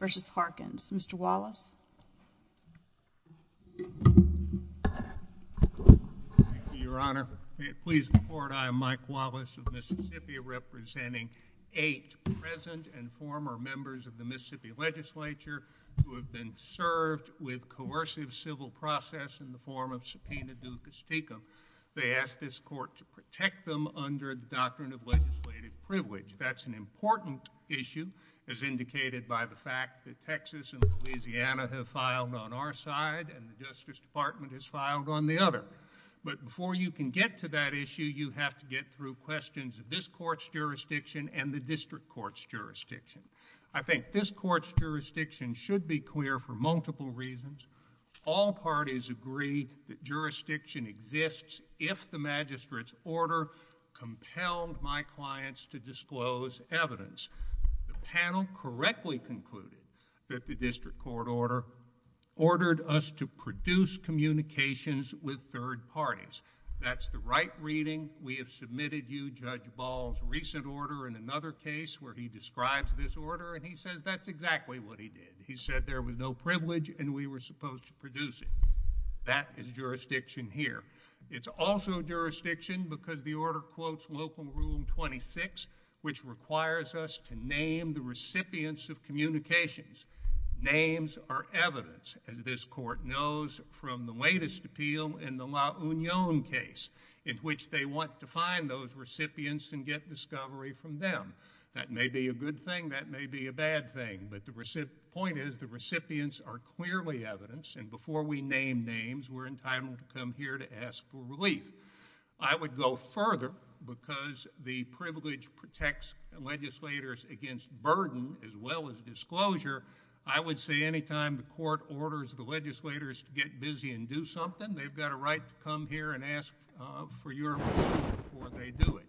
Mr. Wallace. Your Honor, may it please the Court, I am Mike Wallace of Mississippi, representing eight present and former members of the Mississippi Legislature who have been served with coercive civil process in the form of subpoena du castigo. They ask this Court to protect them under the doctrine of legislative privilege. That's an important issue, as indicated by the fact that Texas and Louisiana have filed on our side and the Justice Department has filed on the other. But before you can get to that issue, you have to get through questions of this Court's jurisdiction and the District Court's jurisdiction. I think this Court's jurisdiction should be clear for multiple reasons. All parties agree that jurisdiction exists if the Magistrate's order compelled my clients to disclose evidence. The panel correctly concluded that the District Court order ordered us to produce communications with third parties. That's the right reading. We have submitted you Judge Ball's recent order in another case where he describes this order and he says that's exactly what he did. He said there was no privilege and we were supposed to produce it. That is jurisdiction here. It's also jurisdiction because the order quotes Local Rule 26, which requires us to name the recipients of communications. Names are evidence, as this Court knows from the latest appeal in the La Union case, in which they want to find those recipients and get them released. The point is the recipients are clearly evidence and before we name names, we're entitled to come here to ask for relief. I would go further because the privilege protects legislators against burden as well as disclosure. I would say any time the Court orders the legislators to get busy and do something, they've got a right to come here and ask for your approval before they do it.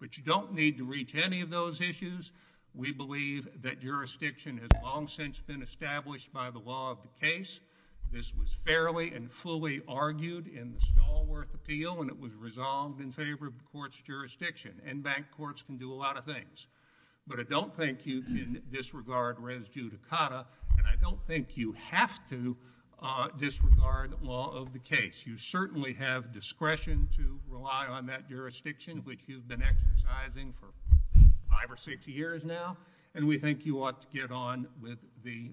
But you don't need to reach any of those issues. We believe that jurisdiction has long since been established by the law of the case. This was fairly and fully argued in the Stallworth appeal and it was resolved in favor of the Court's jurisdiction. In-bank courts can do a lot of things. But I don't think you can disregard res judicata and I don't think you have to disregard law of the case. You certainly have discretion to rely on that jurisdiction, which you've been exercising for five or six years now, and we think you ought to get on with the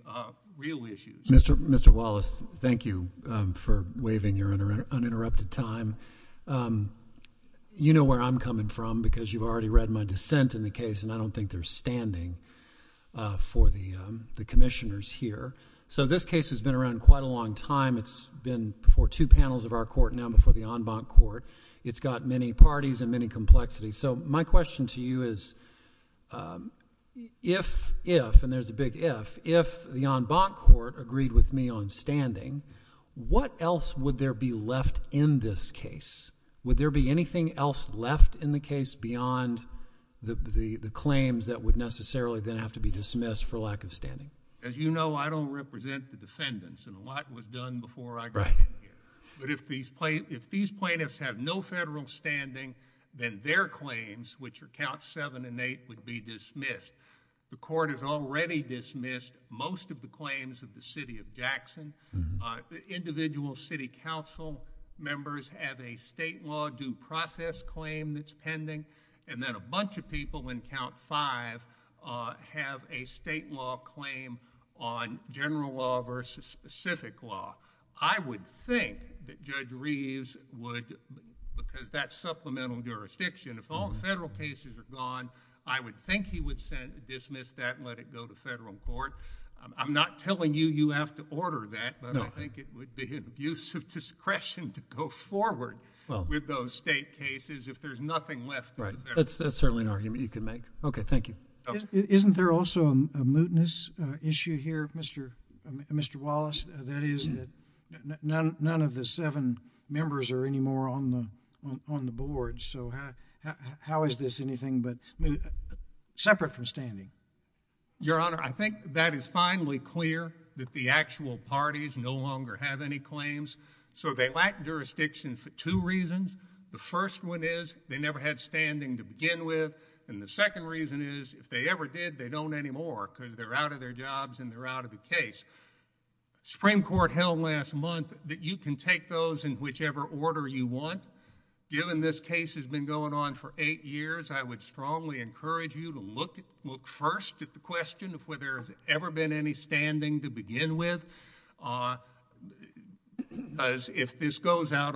real issues. Mr. Wallace, thank you for waiving your uninterrupted time. You know where I'm coming from because you've already read my dissent in the case and I don't think there's standing for the commissioners here. So this case has been around quite a long time. It's been before two panels of our court, now before the en-bank court. It's got many parties and many complexities. So my question to you is if, and there's a big if, if the en-bank court agreed with me on standing, what else would there be left in this case? Would there be anything else left in the case beyond the claims that would necessarily then have to be dismissed for lack of standing? As you know, I don't represent the defendants and a lot was done before I got in here. But if these plaintiffs have no federal standing, then their claims, which are count seven and eight, would be dismissed. The court has already dismissed most of the claims of the city of Jackson. Individual city council members have a state law due process claim that's pending, and then a bunch of people in count five have a state law claim on general law versus specific law. I would think that Judge Reeves would, because that's supplemental jurisdiction, if all the federal cases are gone, I would think he would dismiss that and let it go to federal court. I'm not telling you you have to order that, but I think it would be an abuse of discretion to go forward with those state cases if there's nothing left for the federal court. That's certainly an argument you could make. Okay, thank you. Isn't there also a mootness issue here, Mr. Wallace? That is, none of the seven members are anymore on the board. So how is this anything but separate from standing? Your Honor, I think that is finally clear that the actual parties no longer have any claims. So they lack jurisdiction for two reasons. The first one is they never had standing to begin with, and the second reason is if they ever did, they don't anymore, because they're out of their jobs and they're out of the case. Supreme Court held last month that you can take those in whichever order you want. Given this case has been going on for eight years, I would strongly encourage you to look first at the question of whether there's ever been any standing to begin with, because if this is the case, you're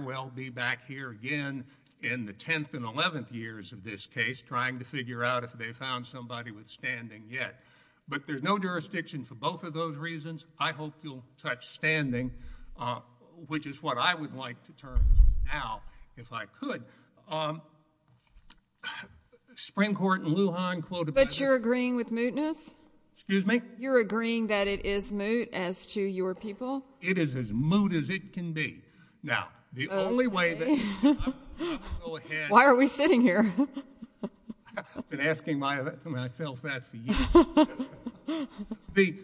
going to be back here again in the 10th and 11th years of this case trying to figure out if they've found somebody with standing yet. But there's no jurisdiction for both of those reasons. I hope you'll touch standing, which is what I would like to turn to now, if I could. Spring Court in Lujan quoted by the- But you're agreeing with mootness? Excuse me? You're agreeing that it is moot as to your people? It is as moot as it can be. Now, the only way that... Why are we sitting here? I've been asking myself that for years.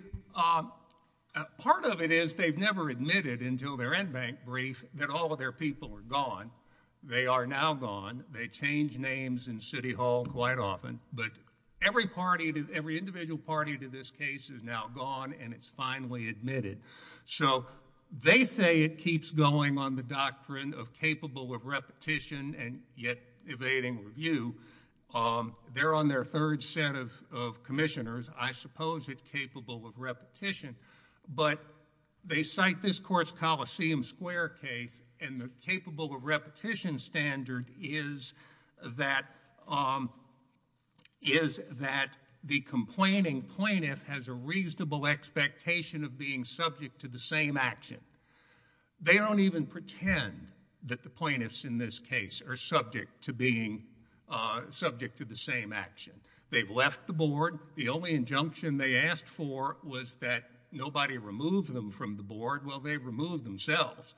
Part of it is they've never admitted until their in-bank brief that all of their people are gone. They are now gone. They change names in City Hall quite often, but every party, every individual party to this case is now admitted. They say it keeps going on the doctrine of capable of repetition and yet evading review. They're on their third set of commissioners. I suppose it's capable of repetition, but they cite this court's Coliseum Square case, and the capable of repetition standard is that the complaining plaintiff has a reasonable expectation of being subject to the same action. They don't even pretend that the plaintiffs in this case are subject to being subject to the same action. They've left the board. The only injunction they asked for was that nobody remove them from the board. Well, they removed themselves.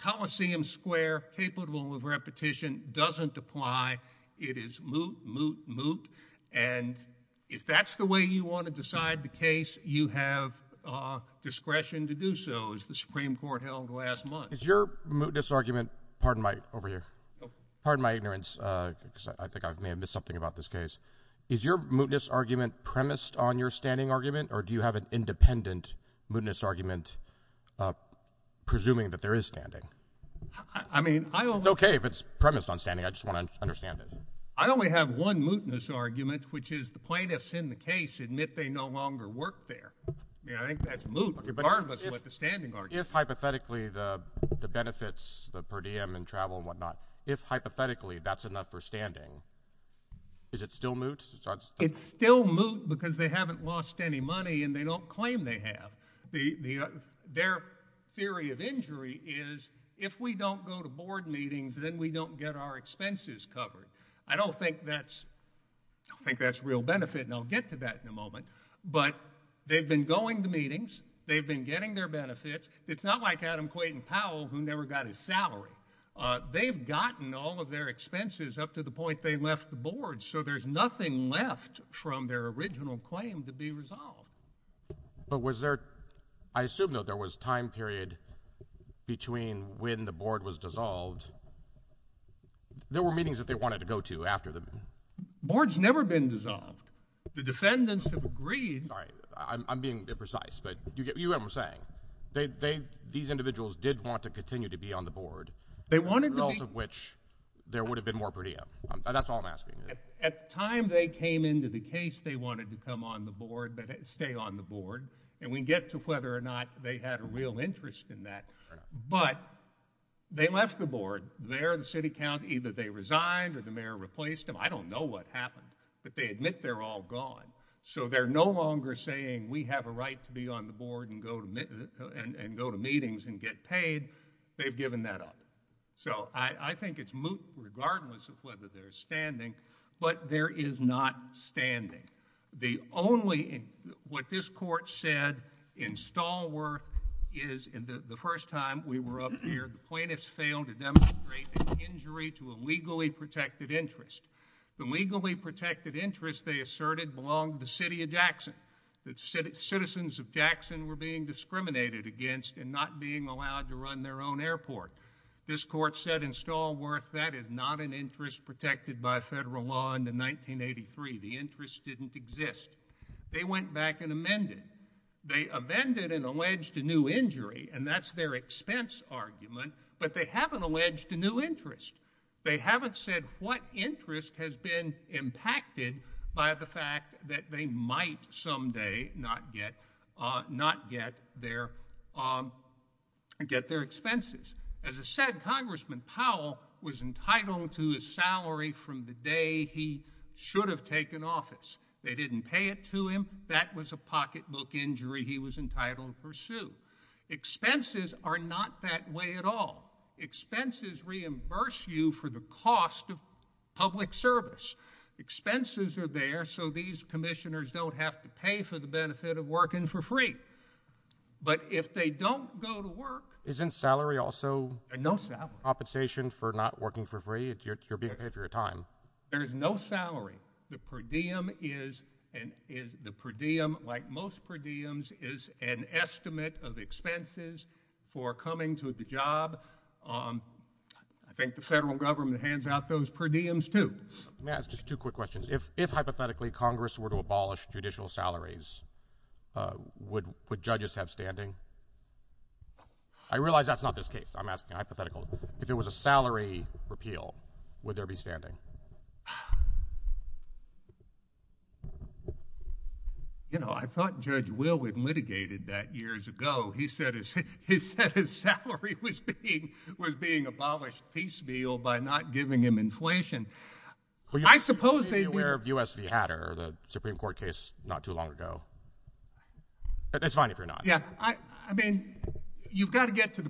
Coliseum Square, capable of repetition, doesn't apply. It is moot, moot, moot. If that's the way you want to decide the case, you have discretion to do so, as the Supreme Court held last month. Is your mootness argument—pardon my ignorance, because I think I may have missed something about this case—premised on your standing argument, or do you have an independent mootness argument? Okay, if it's premised on standing, I just want to understand it. I only have one mootness argument, which is the plaintiffs in the case admit they no longer work there. I mean, I think that's moot, regardless of what the standing argument is. If, hypothetically, the benefits, the per diem and travel and whatnot, if, hypothetically, that's enough for standing, is it still moot? It's still moot because they haven't lost any money and they don't claim they have. Their theory of injury is if we don't go to board meetings then we don't get our expenses covered. I don't think that's real benefit, and I'll get to that in a moment, but they've been going to meetings, they've been getting their benefits. It's not like Adam Quayton Powell, who never got his salary. They've gotten all of their expenses up to the point they left the board, so there's nothing left from their original claim to be resolved. But was there—I assume, though, there was a time period between when the board was dissolved, there were meetings that they wanted to go to after the— The board's never been dissolved. The defendants have agreed— All right. I'm being imprecise, but you get what I'm saying. These individuals did want to continue to be on the board— They wanted to be— —the result of which there would have been more per diem. That's all I'm asking. At the time they came into the case, they wanted to come on the board, stay on the board, and we can get to whether or not they had a real interest in that, but they left the board. There, the city county, either they resigned or the mayor replaced them. I don't know what happened, but they admit they're all gone, so they're no longer saying, we have a right to be on the board and go to meetings and get paid. They've given that up. I think it's moot, regardless of whether they're standing, but there is not standing. The only— What this court said in Stallworth is the first time we were up here, the plaintiffs failed to demonstrate an injury to a legally protected interest. The legally protected interest, they asserted, belonged to the city of Jackson. The citizens of Jackson were being discriminated against and not being allowed to run their own airport. This court said in Stallworth, that is not an interest protected by federal law into 1983. The interest didn't exist. They went back and amended. They amended and alleged a new injury, and that's their expense argument, but they haven't alleged a new interest. They haven't said what interest has been impacted by the fact that they might someday not get their expenses. As I said, Congressman Powell was entitled to his salary from the day he should have taken office. They didn't pay it to him. That was a pocketbook injury he was entitled to pursue. Expenses are not that way at all. Expenses reimburse you for the cost of public service. Expenses are there so these commissioners don't have to pay for the benefit of working for free, but if they don't go to work— Isn't salary also— No salary. —compensation for not working for free? You're being paid for your time. There is no salary. The per diem is, like most per diems, is an estimate of expenses for coming to the job. I think the federal government hands out those per diems, too. May I ask just two quick questions? If, hypothetically, Congress were to abolish judicial salaries, would judges have standing? I realize that's not this case. I'm asking hypothetical. If it was a salary repeal, would there be standing? You know, I thought Judge Will had litigated that years ago. He said his salary was being abolished piecemeal by not giving him inflation. I suppose they'd be— Well, you should be aware of U.S. v. Hatter, the Supreme Court case not too long ago. It's fine if you're not. Yeah. I mean, you've got to get to the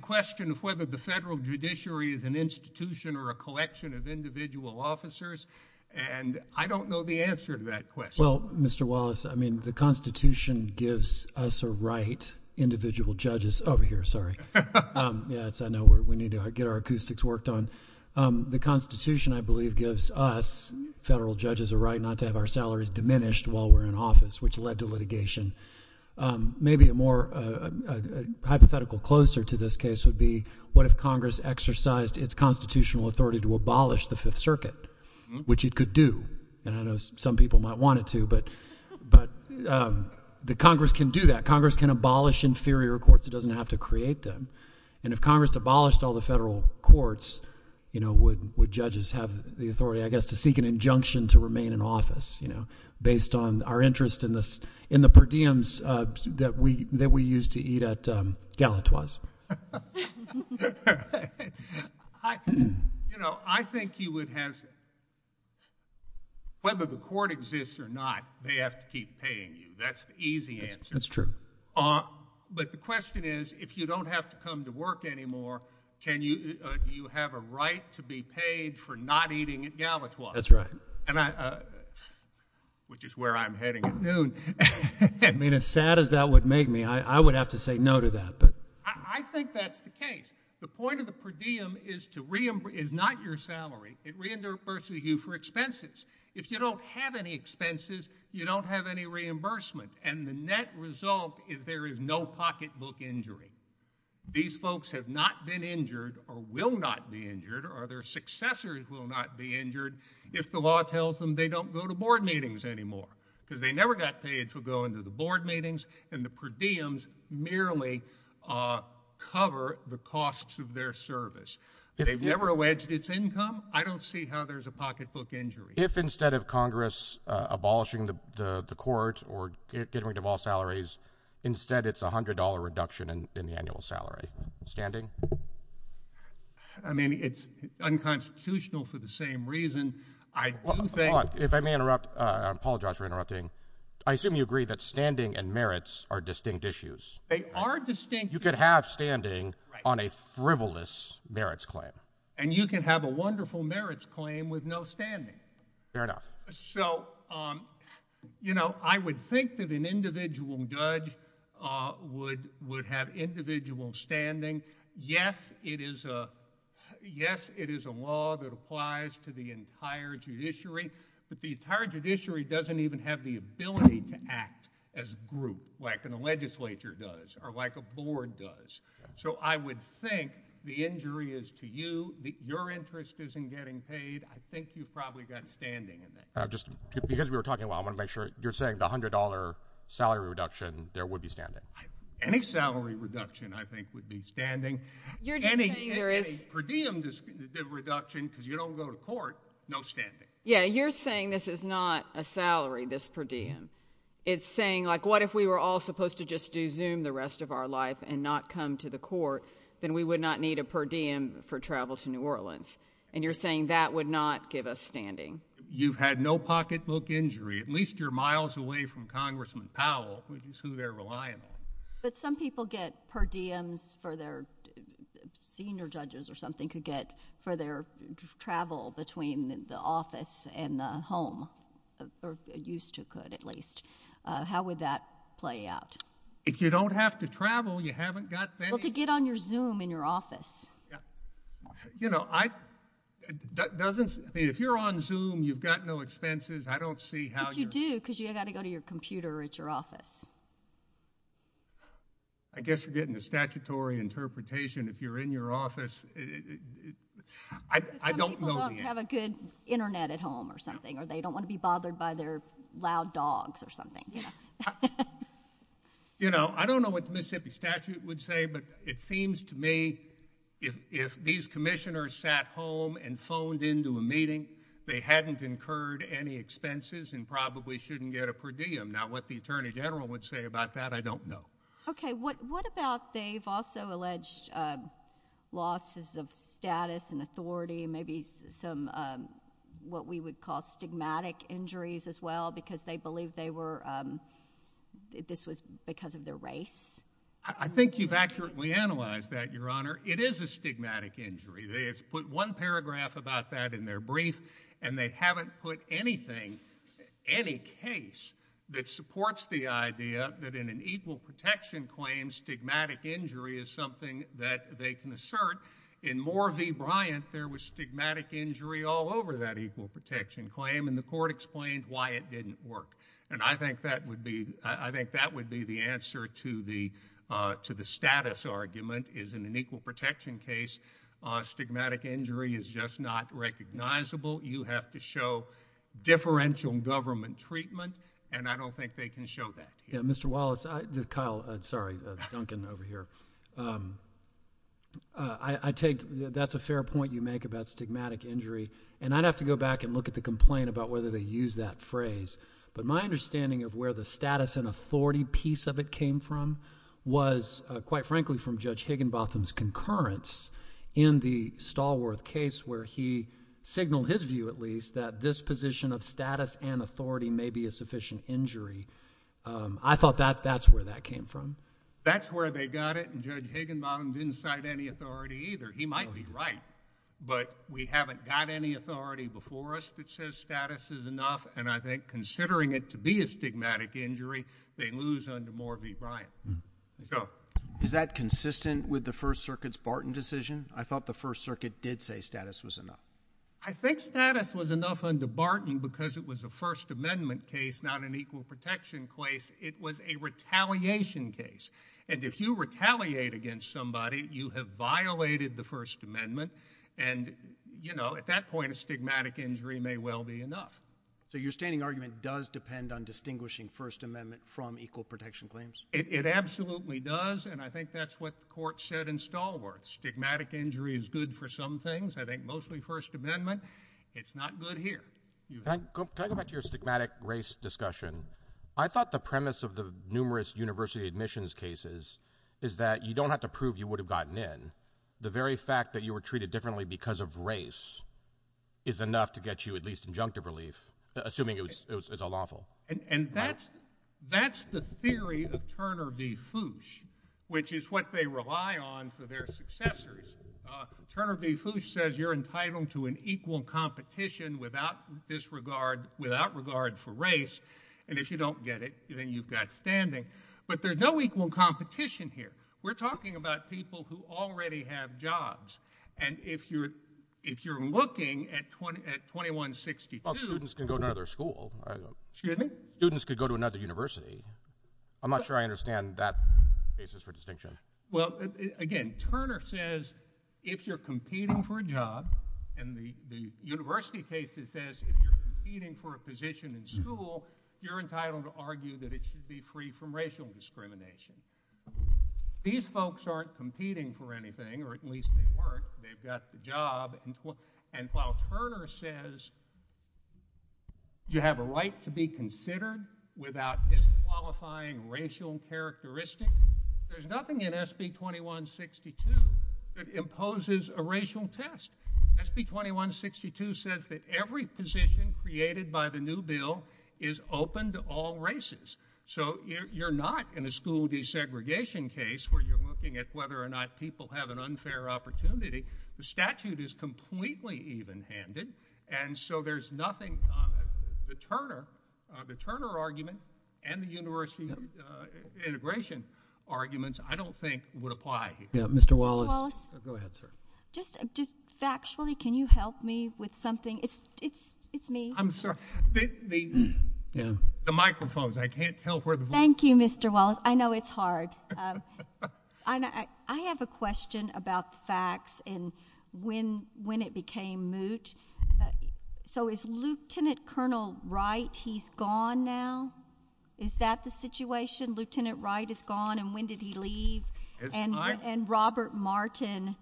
and I don't know the answer to that question. Well, Mr. Wallace, I mean, the Constitution gives us a right—individual judges over here, sorry. Yeah, I know we need to get our acoustics worked on. The Constitution, I believe, gives us, federal judges, a right not to have our salaries diminished while we're in office, which led to litigation. Maybe a more hypothetical closer to this case would be what if Congress exercised its constitutional authority to which it could do. And I know some people might want it to, but the Congress can do that. Congress can abolish inferior courts. It doesn't have to create them. And if Congress abolished all the federal courts, you know, would judges have the authority, I guess, to seek an injunction to remain in office, you know, based on our interest in the per diems that we used to eat at Galatoire's? You know, I think you would have—whether the court exists or not, they have to keep paying you. That's the easy answer. That's true. But the question is, if you don't have to come to work anymore, can you—do you have a right to be paid for not eating at Galatoire's? That's right. And I—which is where I'm heading at noon. I mean, as sad as that would make me, I would have to say no to that. But— I think that's the case. The point of the per diem is to—is not your salary. It reimburses you for expenses. If you don't have any expenses, you don't have any reimbursement. And the net result is there is no pocketbook injury. These folks have not been injured or will not be injured or their successors will not be injured if the law tells them they don't go to board meetings anymore because they never got paid to go into the per diems, merely cover the costs of their service. They've never wedged its income. I don't see how there's a pocketbook injury. If instead of Congress abolishing the court or getting rid of all salaries, instead it's $100 reduction in the annual salary, standing? I mean, it's unconstitutional for the same reason. I do think— Hold on. If I may interrupt—I apologize for They are distinct— You could have standing on a frivolous merits claim. And you can have a wonderful merits claim with no standing. Fair enough. So, you know, I would think that an individual judge would have individual standing. Yes, it is a law that applies to the entire judiciary, but the entire judiciary doesn't even have the ability to act as a group like the legislature does or like a board does. So, I would think the injury is to you. Your interest isn't getting paid. I think you probably got standing in it. Just because we were talking about it, I want to make sure you're saying the $100 salary reduction, there would be standing. Any salary reduction, I think, would be standing. You're just saying there is— Any per diem reduction, because you don't go to court, no standing. Yeah, you're saying this is not a salary, this per diem. It's saying, like, what if we were all supposed to just do Zoom the rest of our life and not come to the court? Then we would not need a per diem for travel to New Orleans. And you're saying that would not give us standing. You've had no pocketbook injury. At least you're miles away from Congressman Powell, which is who they're relying on. But some people get per diems for their—senior home, or used to could, at least. How would that play out? If you don't have to travel, you haven't got— Well, to get on your Zoom in your office. If you're on Zoom, you've got no expenses. I don't see how— But you do, because you've got to go to your computer at your office. I guess you're getting a statutory interpretation if you're in your office. Because some people don't have a good internet at home or something, or they don't want to be bothered by their loud dogs or something. You know, I don't know what the Mississippi statute would say, but it seems to me if these commissioners sat home and phoned into a meeting, they hadn't incurred any expenses and probably shouldn't get a per diem. Now, what the attorney general would say about that, I don't know. Okay, what about they've also alleged losses of status and authority, and maybe some what we would call stigmatic injuries as well, because they believe they were— this was because of their race? I think you've accurately analyzed that, Your Honor. It is a stigmatic injury. They have put one paragraph about that in their brief, and they haven't put anything, any case, that supports the idea that in an equal protection claim, stigmatic injury is something that they can assert. In Moore v. Bryant, there was stigmatic injury all over that equal protection claim, and the court explained why it didn't work. And I think that would be the answer to the status argument is in an equal protection case, stigmatic injury is just not recognizable. You have to show differential government treatment, and I don't think they can show that. Yeah, Mr. Wallace, Kyle—sorry, Duncan over here. I take that's a fair point you make about stigmatic injury, and I'd have to go back and look at the complaint about whether they use that phrase. But my understanding of where the status and authority piece of it came from was, quite frankly, from Judge Higginbotham's concurrence in the Stallworth case where he at least that this position of status and authority may be a sufficient injury. I thought that that's where that came from. That's where they got it, and Judge Higginbotham didn't cite any authority either. He might be right, but we haven't got any authority before us that says status is enough, and I think considering it to be a stigmatic injury, they lose under Moore v. Bryant. Is that consistent with the First Circuit's Barton decision? I thought First Circuit did say status was enough. I think status was enough under Barton because it was a First Amendment case, not an equal protection case. It was a retaliation case, and if you retaliate against somebody, you have violated the First Amendment, and you know, at that point, a stigmatic injury may well be enough. So your standing argument does depend on distinguishing First Amendment from equal protection claims? It absolutely does, and I think that's what the good for some things. I think mostly First Amendment. It's not good here. Can I go back to your stigmatic race discussion? I thought the premise of the numerous university admissions cases is that you don't have to prove you would have gotten in. The very fact that you were treated differently because of race is enough to get you at least injunctive relief, assuming it was lawful. And that's the theory of Turner v. Foosh, which is what they rely on for their successors. Turner v. Foosh says you're entitled to an equal competition without disregard for race, and if you don't get it, then you've got standing. But there's no equal competition here. We're talking about people who already have jobs, and if you're looking at 2162— Well, students can go to another school. Excuse me? Students could go to another university. I'm not sure I understand that basis for distinction. Well, again, Turner says if you're competing for a job, and the university case says if you're competing for a position in school, you're entitled to argue that it should be free from racial discrimination. These folks aren't competing for anything, or at least they weren't. They've got the job. And while Turner says you have a right to be considered without disqualifying racial characteristics, there's nothing in SB 2162 that imposes a racial test. SB 2162 says that every position created by the new bill is open to all races. So you're not in a school desegregation case where you're looking at whether or not people have an unfair opportunity. The statute is completely even-handed, and so there's nothing—the Turner argument and the university integration arguments, I don't think, would apply here. Mr. Wallace? Go ahead, sir. Just factually, can you help me with something? It's me. I'm sorry. The microphones, I can't tell where the— Thank you, Mr. Wallace. I know it's hard. But I have a question about facts and when it became moot. So is Lieutenant Colonel Wright, he's gone now? Is that the situation? Lieutenant Wright is gone, and when did he leave? And Robert Martin,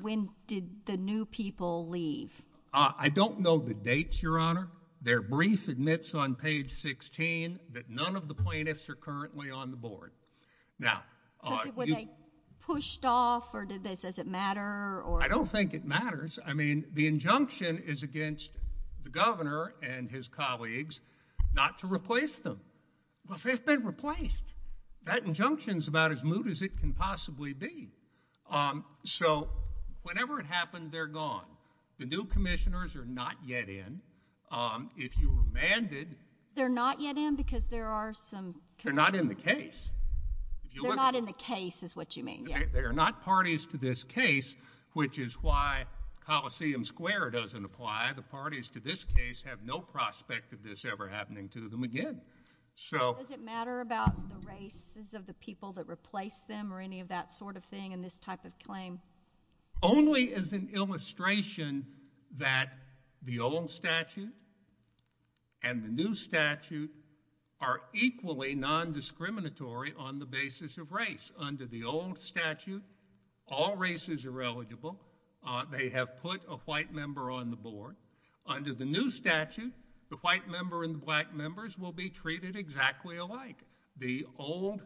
when did the new people leave? I don't know the dates, Your Honor. Their brief admits on page 16 that none of the plaintiffs are currently on the board. Now— But were they pushed off, or does it matter, or— I don't think it matters. I mean, the injunction is against the governor and his colleagues not to replace them. Well, they've been replaced. That injunction's about as moot as it can possibly be. So whenever it happened, they're gone. The new commissioners are not yet in. If you were mandated— They're not yet in because there are some— They're not in the case. They're not in the case is what you mean, yes. They are not parties to this case, which is why Coliseum Square doesn't apply. The parties to this case have no prospect of this ever happening to them again. So— Does it matter about the races of the people that replaced them or any of that sort of thing in this type of claim? Only as an illustration that the old statute and the new statute are equally non-discriminatory on the basis of race. Under the old statute, all races are eligible. They have put a white member on the board. Under the new statute, the white member and the black members will be treated exactly alike. The old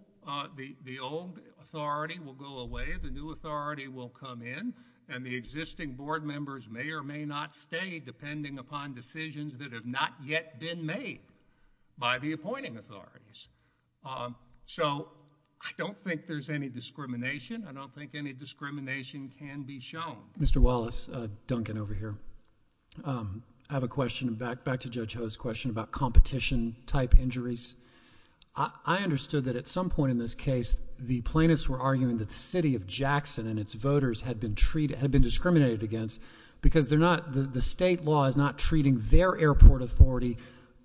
authority will go away. The new authority will come in, and the existing board members may or may not stay depending upon decisions that have not yet been made by the appointing authorities. So I don't think there's any discrimination. I don't think any discrimination can be shown. Mr. Wallace, Duncan over here. I have a question back to Judge Ho's question about competition type injuries. I understood that at some point in this case, the plaintiffs were arguing that the city of Jackson and its voters had been treated—had been discriminated against because they're not—the state law is not treating their airport authority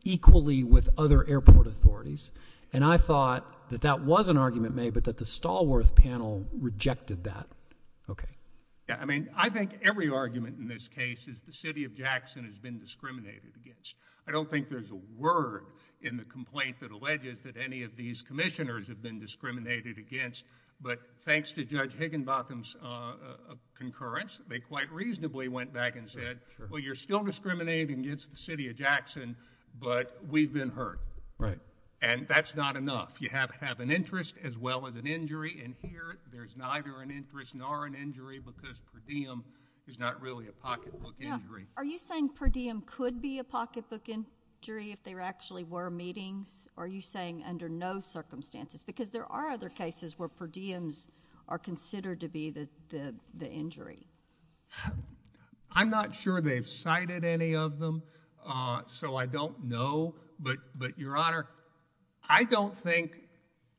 equally with other airport authorities. And I thought that that was an argument made, but that the Stallworth panel rejected that. Okay. Yeah. I mean, I think every argument in this case is the city of Jackson has been discriminated against. I don't think there's a word in the complaint that alleges that any of these commissioners have been discriminated against. But thanks to Judge Higginbotham's concurrence, they quite reasonably went back and said, well, you're still discriminated against the city of Jackson, but we've been hurt. Right. And that's not enough. You have to have an interest as well as an injury. And here, there's neither an interest nor an injury because per diem is not really a pocketbook injury. Are you saying per diem could be a pocketbook injury if there actually were meetings? Are you saying under no circumstances? Because there are other cases where per diems are considered to be the injury. I'm not sure they've cited any of them, so I don't know. But, Your Honor, I don't think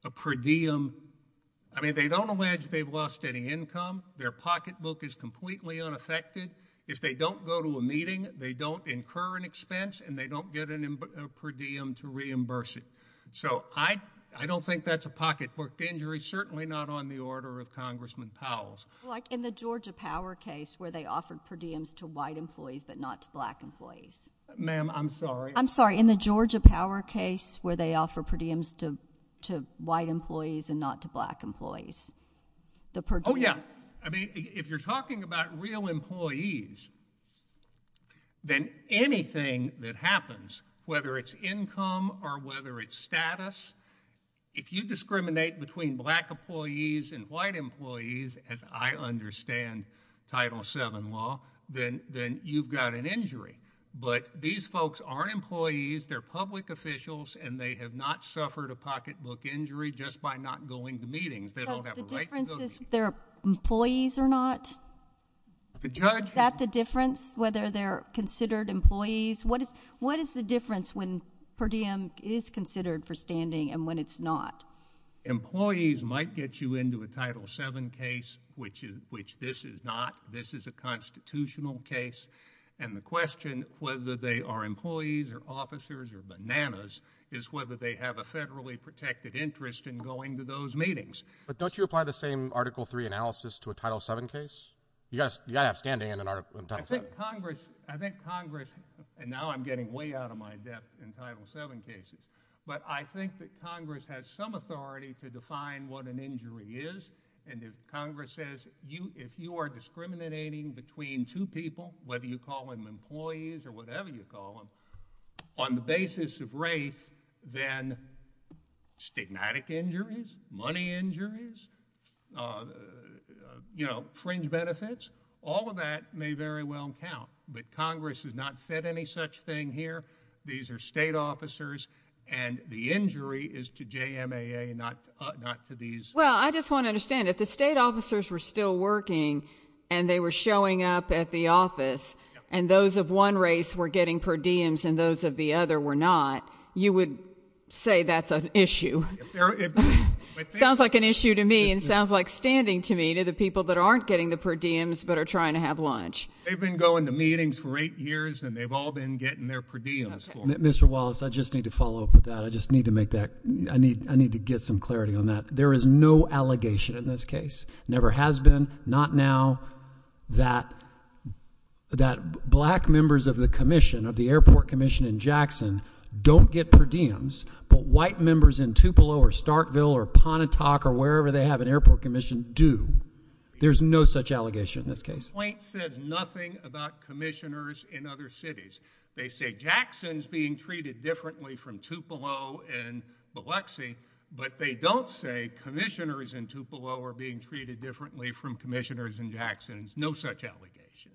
a per diem—I mean, they don't allege they've lost any income. Their pocketbook is completely unaffected. If they don't go to a meeting, they don't incur an expense, and they don't get a per diem to reimburse it. So I don't think that's a pocketbook injury, certainly not on the order of Congressman Powell's. Like in the Georgia Power case where they offered per diems to white employees but not to black employees. Ma'am, I'm sorry. I'm sorry. In the Georgia Power case where they offer per diems to white employees and not to black employees, the per diems— I mean, if you're talking about real employees, then anything that happens, whether it's income or whether it's status, if you discriminate between black employees and white employees, as I understand Title VII law, then you've got an injury. But these folks aren't employees. They're public officials, and they have not suffered a pocketbook injury just by not going to meetings. So the difference is if they're employees or not? The judge— Is that the difference, whether they're considered employees? What is the difference when per diem is considered for standing and when it's not? Employees might get you into a Title VII case, which this is not. This is a constitutional case. And the question, whether they are employees or officers or bananas, is whether they have federally protected interest in going to those meetings. But don't you apply the same Article III analysis to a Title VII case? You've got to have standing in a Title VII case. I think Congress—and now I'm getting way out of my depth in Title VII cases—but I think that Congress has some authority to define what an injury is. And if Congress says, if you are discriminating between two people, whether you call them employees or stigmatic injuries, money injuries, you know, fringe benefits, all of that may very well count. But Congress has not said any such thing here. These are state officers, and the injury is to JMAA, not to these— Well, I just want to understand, if the state officers were still working, and they were showing up at the office, and those of one race were getting per diems and those of the other were not, you would say that's an issue? Sounds like an issue to me, and sounds like standing to me to the people that aren't getting the per diems but are trying to have lunch. They've been going to meetings for eight years, and they've all been getting their per diems. Mr. Wallace, I just need to follow up with that. I just need to make that—I need to get some clarity on that. There is no allegation in this case. Never has been. Not now. That black members of the commission, of the airport commission in Jackson, don't get per diems, but white members in Tupelo or Starkville or Pontotoc or wherever they have an airport commission do. There's no such allegation in this case. The point says nothing about commissioners in other cities. They say Jackson's being treated differently from Tupelo and Biloxi, but they don't say commissioners in Tupelo are being treated differently from commissioners in Jackson. There's no such allegation.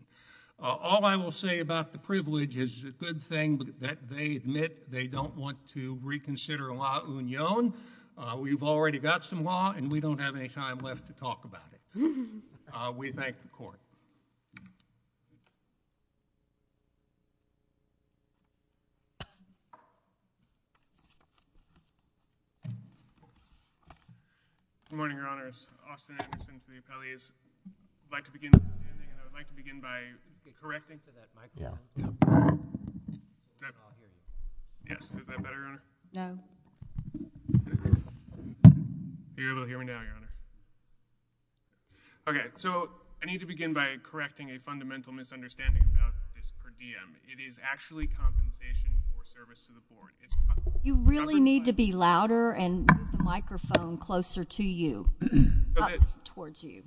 All I will say about the privilege is it's a good thing that they admit they don't want to reconsider La Union. We've already got some law, and we don't have any time left to talk about it. We thank the court. Good morning, Your Honors. Austin Anderson for the appellees. I'd like to begin by correcting for that mic. Yes, is that better, Your Honor? No. You're able to hear me now, Your Honor. Okay, so I need to begin by correcting a fundamental misunderstanding about this per diem. It is actually compensation for service to the board. You really need to be louder and move the microphone closer to you, up towards you.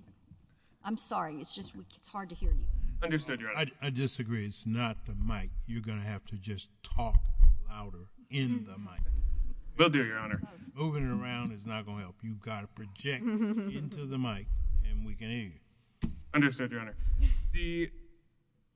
I'm sorry. It's just it's hard to hear you. Understood, Your Honor. I disagree. It's not the mic. You're going to have to just talk louder in the mic. Will do, Your Honor. Moving around is not going to help. You've got to project into the mic, and we can hear you. Understood, Your Honor. The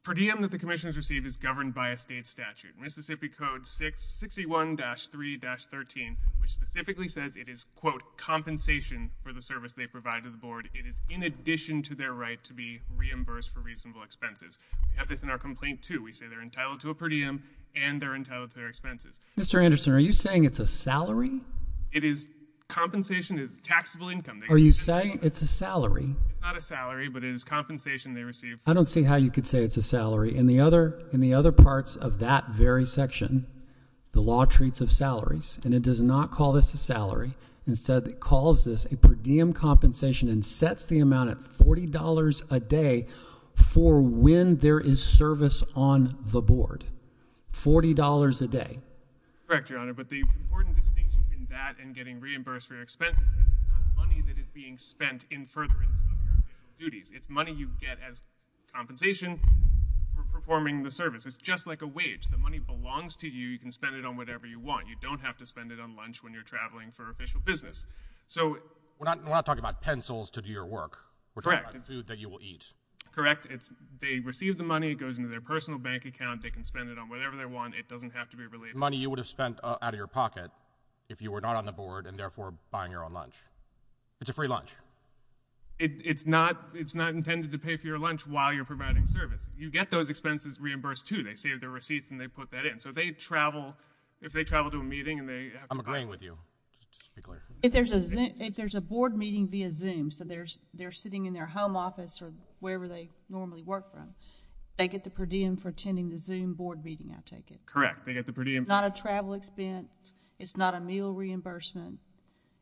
per diem that the commission has received is governed by a state statute, Mississippi Code 661-3-13, which specifically says it is, quote, compensation for the service they provide to the board. It is in addition to their right to be reimbursed for reasonable expenses. We have this in our complaint, too. We say they're entitled to a per diem, and they're entitled to their expenses. Mr. Anderson, are you saying it's a salary? It is. Compensation is taxable income. Are you saying it's a salary? It's not a salary, but it is compensation they receive. I don't see how you could say it's a salary. In the other parts of that very section, the law treats of salaries, and it does not call this a salary. Instead, it calls this a per diem compensation and sets the amount at $40 a day for when there is service on the board. $40 a day. Correct, Your Honor, but the important distinction in that and getting reimbursed for your expenses is it's not money that is being spent in furtherance of your official duties. It's money you get as compensation for performing the service. It's just like a wage. The money belongs to you. You can spend it on whatever you want. You don't have to spend it on lunch when you're traveling for official business. We're not talking about pencils to do your work. Correct. We're talking about food that you will eat. Correct. They receive the money. It goes into their personal bank account. They can spend it on whatever they want. It doesn't have to be related. It's money you would have spent out of your pocket if you were not on the board and, therefore, buying your own lunch. It's a free lunch. It's not intended to pay for your lunch while you're providing service. You get those expenses reimbursed, too. They save their receipts, and they put that in. So, if they travel to a meeting and they have to buy— I'm agreeing with you. If there's a board meeting via Zoom, so they're sitting in their home office or wherever they normally work from, they get the per diem for attending the Zoom board meeting, I take it. Correct. They get the per diem— It's not a travel expense. It's not a meal reimbursement.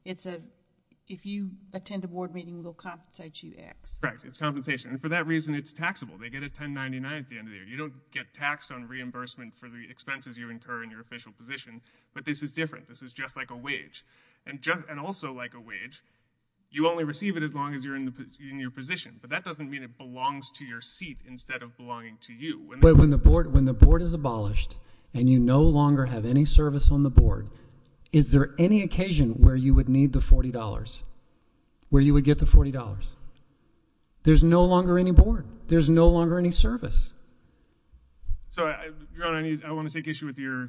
If you attend a board meeting, it will compensate you X. Correct. It's compensation. And for that reason, it's taxable. They get a 1099 at the end of the year. You don't get taxed on reimbursement for the expenses you incur in your official position. But this is different. This is just like a wage. And also like a wage, you only receive it as long as you're in your position. But that doesn't mean it belongs to your seat instead of belonging to you. When the board is abolished and you no longer have any service on the board, is there any occasion where you would need the $40, where you would get the $40? There's no longer any board. There's no longer any service. So, Your Honor, I want to take issue with your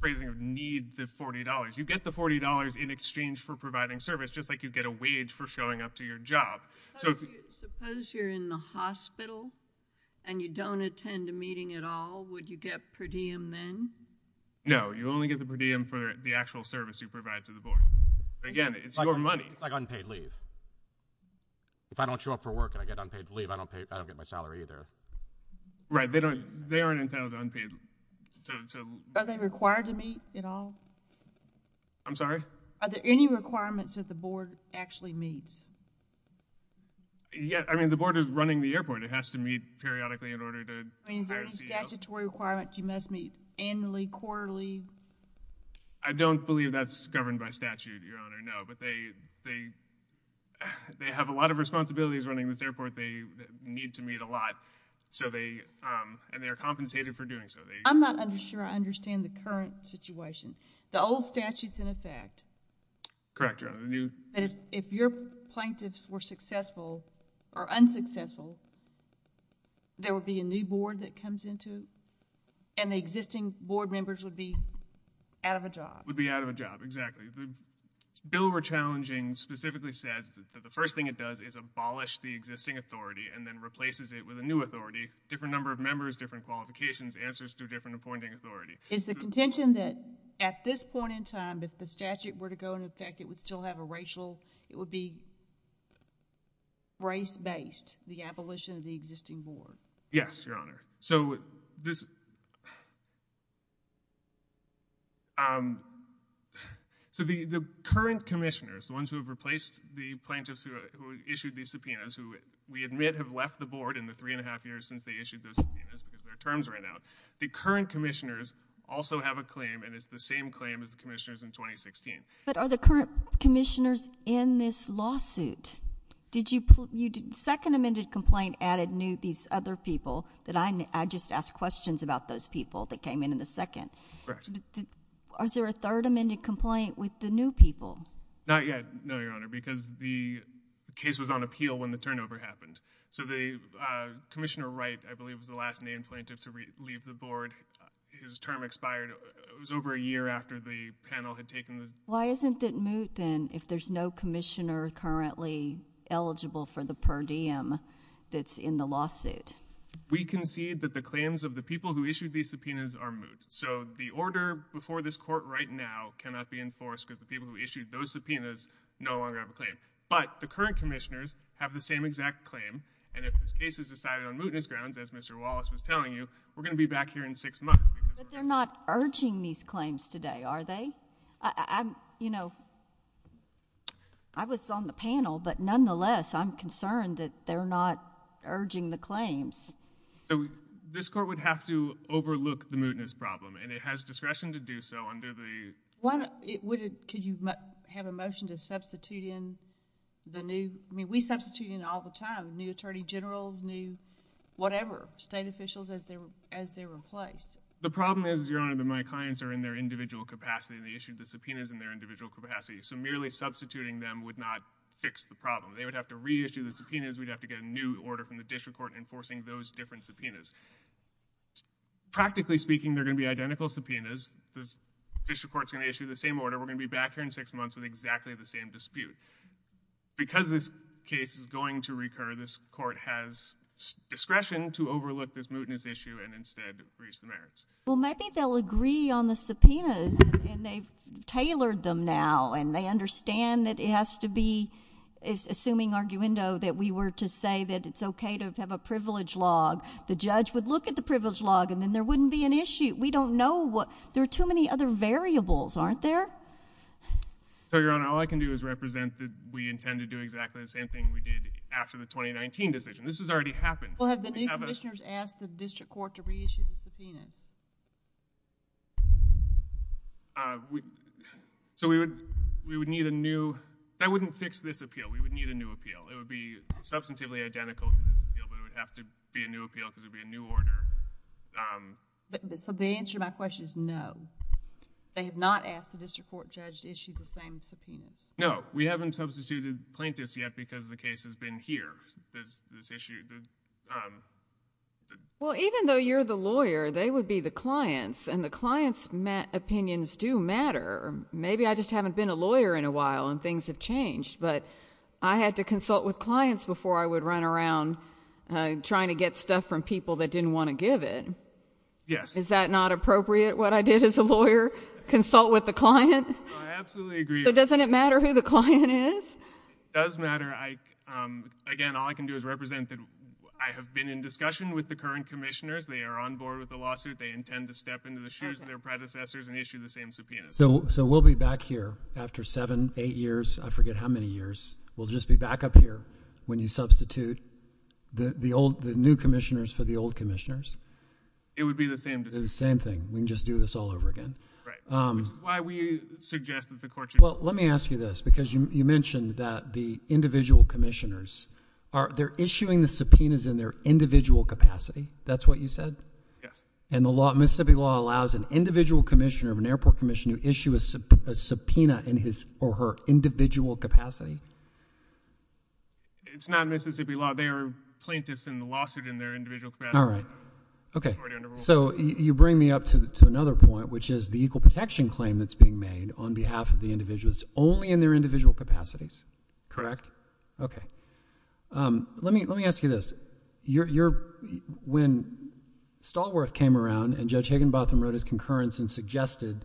phrasing of need the $40. You get the $40 in exchange for providing service, just like you get a wage for showing up to your job. Suppose you're in the hospital and you don't attend a meeting at all. Would you get per diem then? No, you only get the per diem for the actual service you provide to the board. Again, it's your money. It's like unpaid leave. If I don't show up for work and I get unpaid leave, I don't get my salary either. Right. They aren't entitled to unpaid. Are they required to meet at all? I'm sorry? Are there any requirements that the board actually meets? I mean, the board is running the airport. It has to meet periodically in order to hire a CEO. Is there any statutory requirement you must meet annually, quarterly? I don't believe that's governed by statute, Your Honor. No, but they have a lot of responsibilities running this airport. They need to meet a lot, and they are compensated for doing so. I'm not sure I understand the current situation. The old statute's in effect. Correct, Your Honor. If your plaintiffs were successful or unsuccessful, there would be a new board that comes into it, and the existing board members would be out of a job. Would be out of a job, exactly. The bill we're challenging specifically says that the first thing it does is abolish the existing authority and then replaces it with a new authority, different number of members, different qualifications, answers to a different appointing authority. Is the contention that at this point in time, if the statute were to go in effect, it would still have a racial, it would be race-based, the abolition of the existing board? Yes, Your Honor. So the current commissioners, the ones who have replaced the plaintiffs who issued these subpoenas, who we admit have left the board in the three and a half years since they issued those subpoenas because their terms ran out, the current commissioners also have a claim, and it's the same claim as the commissioners in 2016. But are the current commissioners in this lawsuit? Did you, second amended complaint added new, these other people that I just asked questions about those people that came in in the second. Is there a third amended complaint with the new people? Not yet, no, Your Honor, because the case was on appeal when the turnover happened. So the Commissioner Wright, I believe, was the last named plaintiff to leave the board. His term expired, it was over a year after the panel had taken this. Why isn't it moot, then, if there's no commissioner currently eligible for the per diem that's in the lawsuit? We concede that the claims of the people who issued these subpoenas are moot. So the order before this court right now cannot be enforced because the people who issued those subpoenas no longer have a claim. But the current commissioners have the same exact claim, and if this case is decided on mootness grounds, as Mr. Wallace was telling you, we're going to be back here in six months. But they're not urging these claims today, are they? I was on the panel, but nonetheless, I'm concerned that they're not urging the claims. So this court would have to overlook the mootness problem, and it has discretion to do so under the... Could you have a motion to substitute in the new... I mean, we substitute in all the time, new attorney generals, new whatever, state officials as they're replaced. The problem is, Your Honor, that my clients are in their individual capacity, and they issued the subpoenas in their individual capacity. So merely substituting them would not fix the problem. They would have to reissue the subpoenas. We'd have to get a new order from the district court enforcing those different subpoenas. Practically speaking, they're going to be identical subpoenas. The district court's going to issue the same order. We're going to be back here in six months with exactly the same dispute. Because this case is going to recur, this court has discretion to overlook this mootness issue and instead reach the merits. Well, maybe they'll agree on the subpoenas, and they've tailored them now, and they understand that it has to be, assuming arguendo, that we were to say that it's okay to have a privilege log. The judge would look at the privilege log, and then there wouldn't be an issue. We don't know what... There are too many other variables, aren't there? So, Your Honor, all I can do is represent that we intend to do exactly the same thing we did after the 2019 decision. This has already happened. Have the new commissioners asked the district court to reissue the subpoenas? So, we would need a new... That wouldn't fix this appeal. We would need a new appeal. It would be substantively identical to this appeal, but it would have to be a new appeal because it would be a new order. So, the answer to my question is no. They have not asked the district court judge to issue the same subpoenas? No. We haven't substituted plaintiffs yet because the case has been here. Well, even though you're the lawyer, they would be the clients, and the clients' opinions do matter. Maybe I just haven't been a lawyer in a while, and things have changed, but I had to consult with clients before I would run around trying to get stuff from people that didn't want to give it. Is that not appropriate, what I did as a lawyer? Consult with the client? No, I absolutely agree. So, doesn't it matter who the client is? It does matter. Again, all I can do is represent that I have been in discussion with the current commissioners. They are on board with the lawsuit. They intend to step into the shoes of their predecessors and issue the same subpoenas. So, we'll be back here after seven, eight years. I forget how many years. We'll just be back up here when you substitute the new commissioners for the old commissioners. It would be the same decision. Same thing. We can just do this all over again. Right. Why would you suggest that the court judge... Let me ask you this, because you mentioned that the individual commissioners, they're issuing the subpoenas in their individual capacity. That's what you said? Yes. And Mississippi law allows an individual commissioner of an airport commission to issue a subpoena in his or her individual capacity? It's not Mississippi law. They are plaintiffs in the lawsuit in their individual capacity. All right. Okay. So, you bring me up to another point, which is the equal protection claim that's only in their individual capacities? Correct. Okay. Let me ask you this. When Stallworth came around, and Judge Higginbotham wrote his concurrence and suggested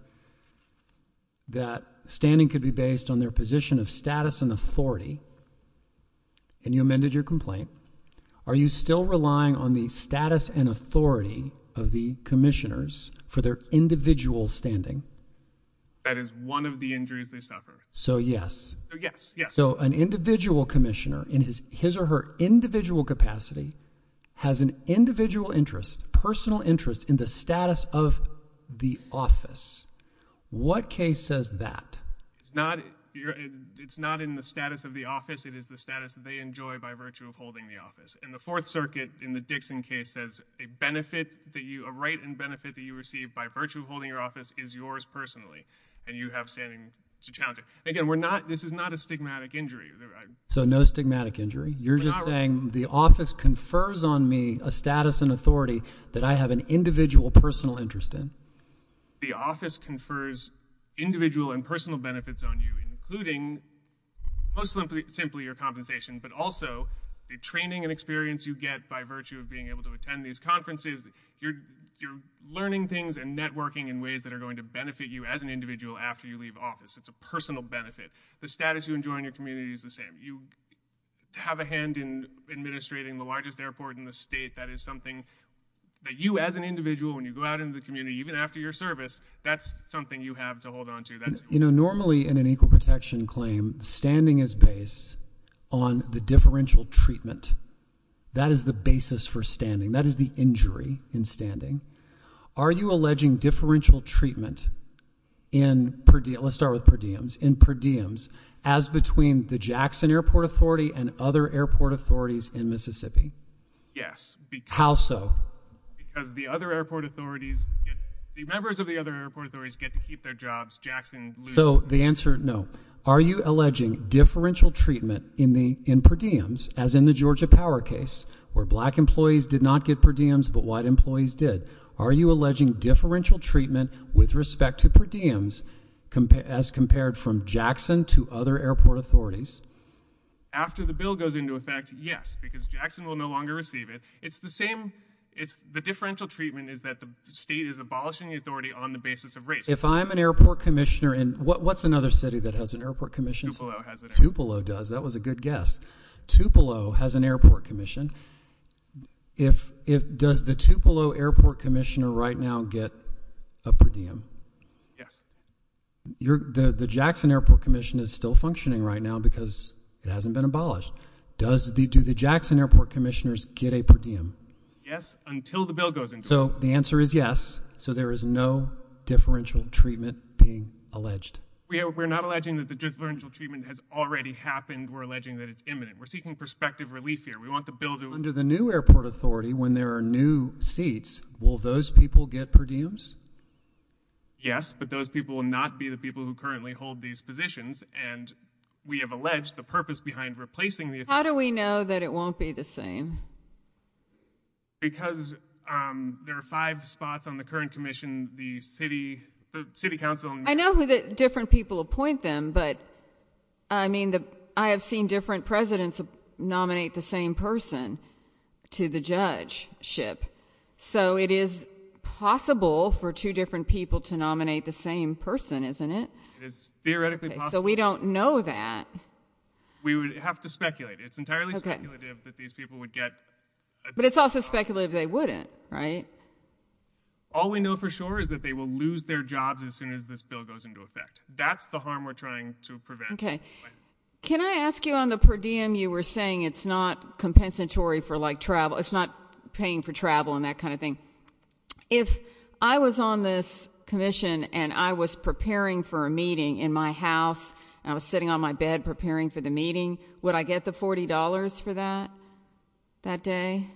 that standing could be based on their position of status and authority, and you amended your complaint, are you still relying on the status and authority of the commissioners for their individual standing? That is one of the injuries they suffer. So, yes. So, yes. Yes. So, an individual commissioner in his or her individual capacity has an individual interest, personal interest, in the status of the office. What case says that? It's not in the status of the office. It is the status that they enjoy by virtue of holding the office. And the Fourth Circuit, in the Dixon case, says a right and benefit that you receive by virtue of holding your office is yours personally, and you have standing to challenge it. Again, this is not a stigmatic injury. So, no stigmatic injury? You're just saying the office confers on me a status and authority that I have an individual personal interest in? The office confers individual and personal benefits on you, including, most simply, your compensation, but also the training and experience you get by virtue of able to attend these conferences. You're learning things and networking in ways that are going to benefit you as an individual after you leave office. It's a personal benefit. The status you enjoy in your community is the same. You have a hand in administrating the largest airport in the state. That is something that you, as an individual, when you go out into the community, even after your service, that's something you have to hold on to. You know, normally, in an equal protection claim, standing is based on the differential treatment. That is the basis for standing. That is the injury in standing. Are you alleging differential treatment in, let's start with per diems, in per diems, as between the Jackson Airport Authority and other airport authorities in Mississippi? Yes. How so? Because the other airport authorities, the members of the other airport authorities get to keep their jobs, Jackson loses. So, the answer, no. Are you alleging differential treatment in per diems, as in the Georgia Power case, where black employees did not get per diems, but white employees did? Are you alleging differential treatment with respect to per diems as compared from Jackson to other airport authorities? After the bill goes into effect, yes, because Jackson will no longer receive it. It's the same, it's the differential treatment is that the state is abolishing the authority on the basis of race. If I'm an airport commissioner in, what's another city that has an airport commission? Tupelo has it. Tupelo does. That was a good guess. Tupelo has an airport commission. Does the Tupelo Airport Commissioner right now get a per diem? Yes. The Jackson Airport Commission is still functioning right now because it hasn't been abolished. Do the Jackson Airport Commissioners get a per diem? Yes, until the bill goes into effect. So, the answer is yes. So, there is no differential treatment being alleged. We're not alleging that the differential treatment has already happened. We're alleging that it's imminent. We're seeking perspective relief here. We want the bill to... Under the new airport authority, when there are new seats, will those people get per diems? Yes, but those people will not be the people who currently hold these positions. And we have alleged the purpose behind replacing the... How do we know that it won't be the same? Because there are five spots on the current commission, the city council... I know who the different people appoint them, but I have seen different presidents nominate the same person to the judgeship. So, it is possible for two different people to nominate the same person, isn't it? It is theoretically possible. So, we don't know that. We would have to speculate. It's entirely speculative that these people would get... But it's also speculative they wouldn't, right? All we know for sure is that they will lose their jobs as soon as this bill goes into effect. That's the harm we're trying to prevent. Okay. Can I ask you on the per diem you were saying it's not compensatory for like travel, it's not paying for travel and that kind of thing. If I was on this commission and I was preparing for a meeting in my house, and I was sitting on my bed preparing for the meeting, would I get the $40 for that, that day?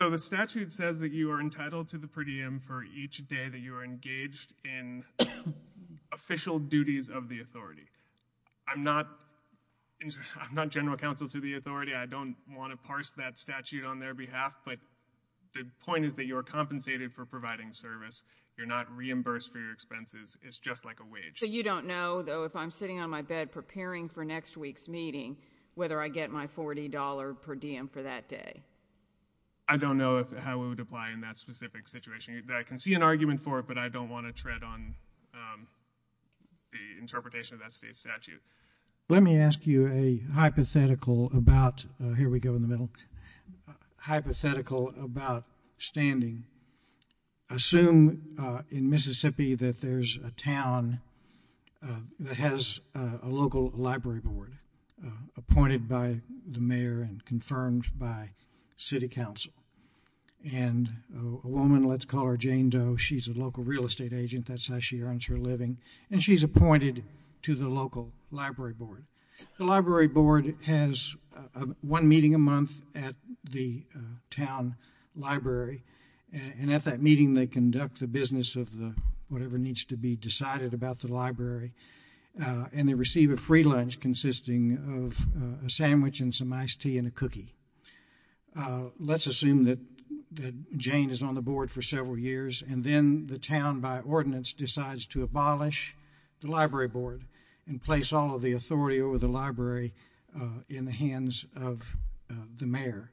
So, the statute says that you are entitled to the per diem for each day that you are engaged in official duties of the authority. I'm not general counsel to the authority. I don't want to parse that statute on their behalf. But the point is that you are compensated for providing service. You're not reimbursed for your expenses. It's just like a wage. So, you don't know, though, if I'm sitting on my bed preparing for next week's meeting, whether I get my $40 per diem for that day? I don't know how it would apply in that specific situation. I can see an argument for it, but I don't want to tread on the interpretation of that state statute. Let me ask you a hypothetical about, here we go in the middle, hypothetical about standing. Assume in Mississippi that there's a town that has a local library board appointed by the mayor and confirmed by city council. And a woman, let's call her Jane Doe, she's a local real estate agent. That's how she earns her living. And she's appointed to the local library board. The library board has one meeting a month at the town library. And at that meeting, they conduct the business of whatever needs to be decided about the library. And they receive a free lunch consisting of a sandwich and some iced tea and a cookie. Let's assume that Jane is on the board for several years and then the town, by ordinance, decides to abolish the library board and place all of the authority over the library in the hands of the mayor.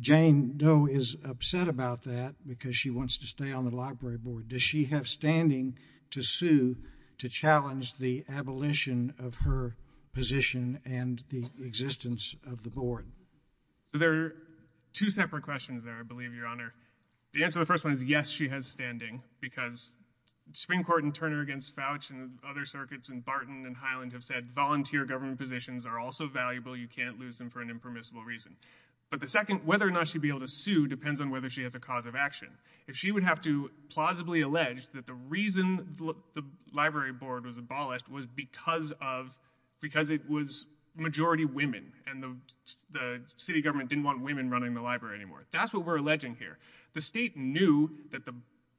Jane Doe is upset about that because she wants to stay on the library board. Does she have standing to sue to challenge the abolition of her position and the existence of the board? There are two separate questions there, I believe, Your Honor. The answer to the first one is yes, she has standing. Because Supreme Court and Turner against Fouch and other circuits and Barton and Highland have said volunteer government positions are also valuable. You can't lose them for an impermissible reason. But the second, whether or not she'd be able to sue depends on whether she has a cause of action. If she would have to plausibly allege that the reason the library board was abolished was because it was majority women and the city government didn't want women running the library anymore. That's what we're alleging here. The state knew that the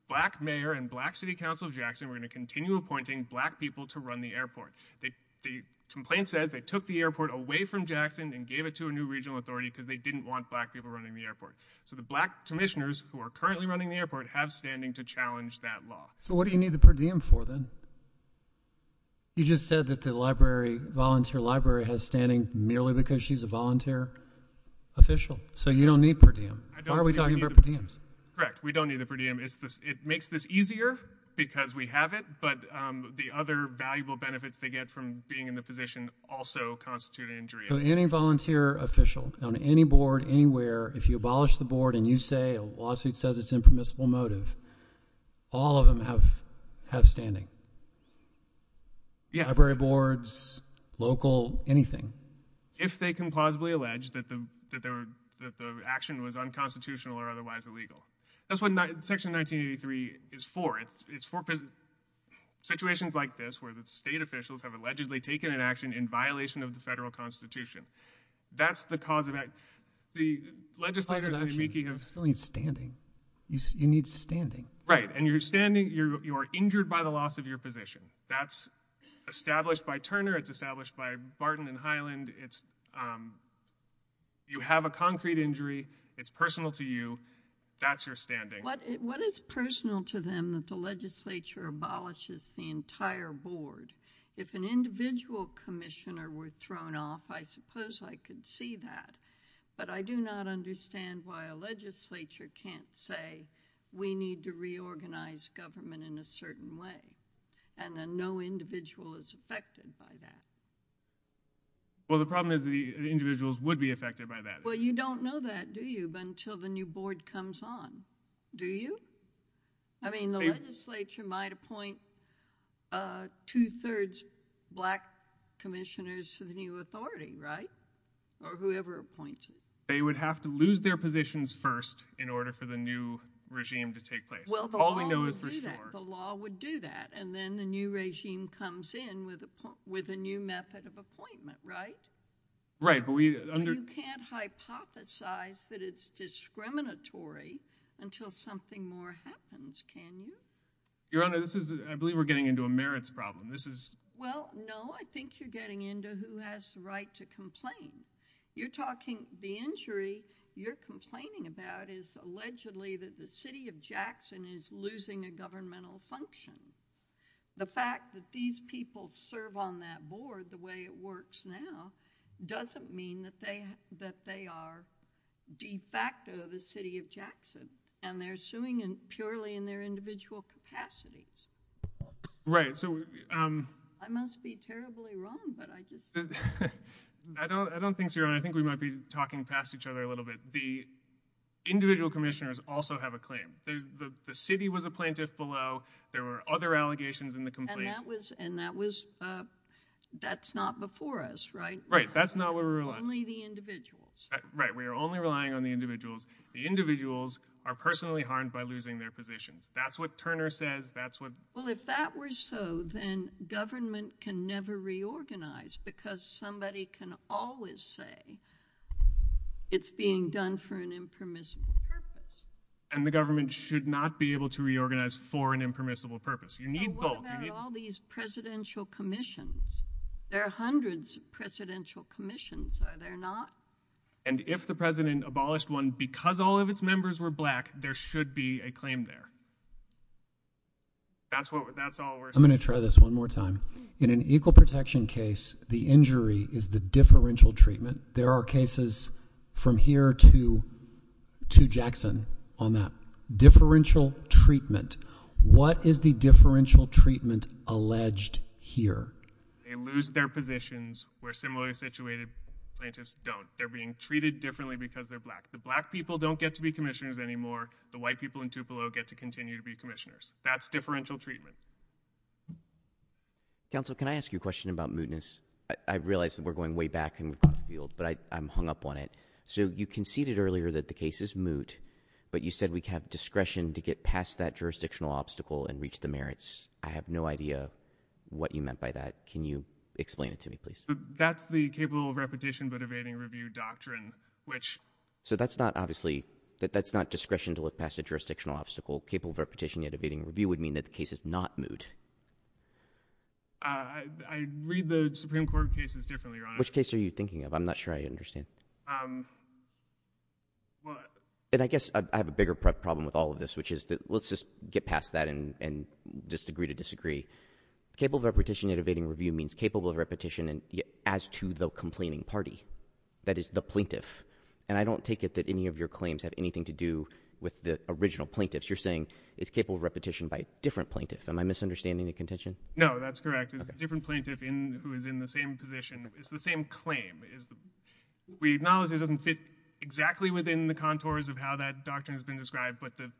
black mayor and black city council of Jackson were going to continue appointing black people to run the airport. The complaint says they took the airport away from Jackson and gave it to a new regional authority because they didn't want black people running the airport. So the black commissioners who are currently running the airport have standing to challenge that law. So what do you need the per diem for then? You just said that the library, volunteer library has standing merely because she's a volunteer official. So you don't need per diem. Why are we talking about per diems? Correct. We don't need the per diem. It makes this easier because we have it. But the other valuable benefits they get from being in the position also constitute an injury. Any volunteer official on any board anywhere, if you abolish the board and you say a lawsuit says it's impermissible motive, all of them have standing. Library boards, local, anything. If they can plausibly allege that the action was unconstitutional or otherwise illegal. That's what section 1983 is for. Situations like this where the state officials have allegedly taken an action in violation of the federal constitution. That's the cause of it. The legislature still needs standing. You need standing. Right. And you're standing, you're injured by the loss of your position. That's established by Turner. It's established by Barton and Highland. It's you have a concrete injury. It's personal to you. That's your standing. What is personal to them that the legislature abolishes the entire board? If an individual commissioner were thrown off, I suppose I could see that. But I do not understand why a legislature can't say we need to reorganize government in a certain way. And then no individual is affected by that. Well, the problem is the individuals would be affected by that. Well, you don't know that, do you? But until the new board comes on, do you? I mean, the legislature might appoint two thirds black commissioners to the new authority, right? Or whoever appoints you. They would have to lose their positions first in order for the new regime to take place. Well, all we know is for sure. The law would do that. And then the new regime comes in with a new method of appointment, right? Right. You can't hypothesize that it's discriminatory until something more happens, can you? Your Honor, I believe we're getting into a merits problem. Well, no. I think you're getting into who has the right to complain. The injury you're complaining about is allegedly that the city of Jackson is losing a governmental function. The fact that these people serve on that board the way it works now doesn't mean that they are de facto the city of Jackson. And they're suing purely in their individual capacities. Right. I must be terribly wrong, but I just. I don't think so, Your Honor. I think we might be talking past each other a little bit. The individual commissioners also have a claim. The city was a plaintiff below. There were other allegations in the complaint. And that's not before us, right? Right. That's not where we're relying. Only the individuals. Right. We are only relying on the individuals. The individuals are personally harmed by losing their positions. That's what Turner says. That's what. Well, if that were so, then government can never reorganize because somebody can always say it's being done for an impermissible purpose. And the government should not be able to reorganize for an impermissible purpose. You need both. What about all these presidential commissions? There are hundreds of presidential commissions, are there not? And if the president abolished one because all of its members were black, there should be a claim there. That's what that's all we're. I'm going to try this one more time. In an equal protection case, the injury is the differential treatment. There are cases from here to Jackson on that differential treatment. What is the differential treatment alleged here? They lose their positions where similarly situated plaintiffs don't. They're being treated differently because they're black. The black people don't get to be commissioners anymore. The white people in Tupelo get to continue to be commissioners. That's differential treatment. Counsel, can I ask you a question about mootness? I realize that we're going way back in the field, but I'm hung up on it. So you conceded earlier that the case is moot, but you said we have discretion to get past that jurisdictional obstacle and reach the merits. I have no idea what you meant by that. Can you explain it to me, please? That's the capable of repetition but evading review doctrine, which. So that's not obviously, that's not discretion to look past a jurisdictional obstacle. Capable of repetition yet evading review would mean that the case is not moot. I read the Supreme Court cases differently, Your Honor. Which case are you thinking of? I'm not sure I understand. And I guess I have a bigger problem with all of this, which is that let's just get past that and just agree to disagree. Capable of repetition yet evading review means capable of repetition as to the complaining party, that is the plaintiff. And I don't take it that any of your claims have anything to do with the original plaintiffs. You're saying it's capable of repetition by a different plaintiff. Am I misunderstanding the contention? No, that's correct. It's a different plaintiff who is in the same position. It's the same claim. We acknowledge it doesn't fit exactly within the contours of how that doctrine has been described. But the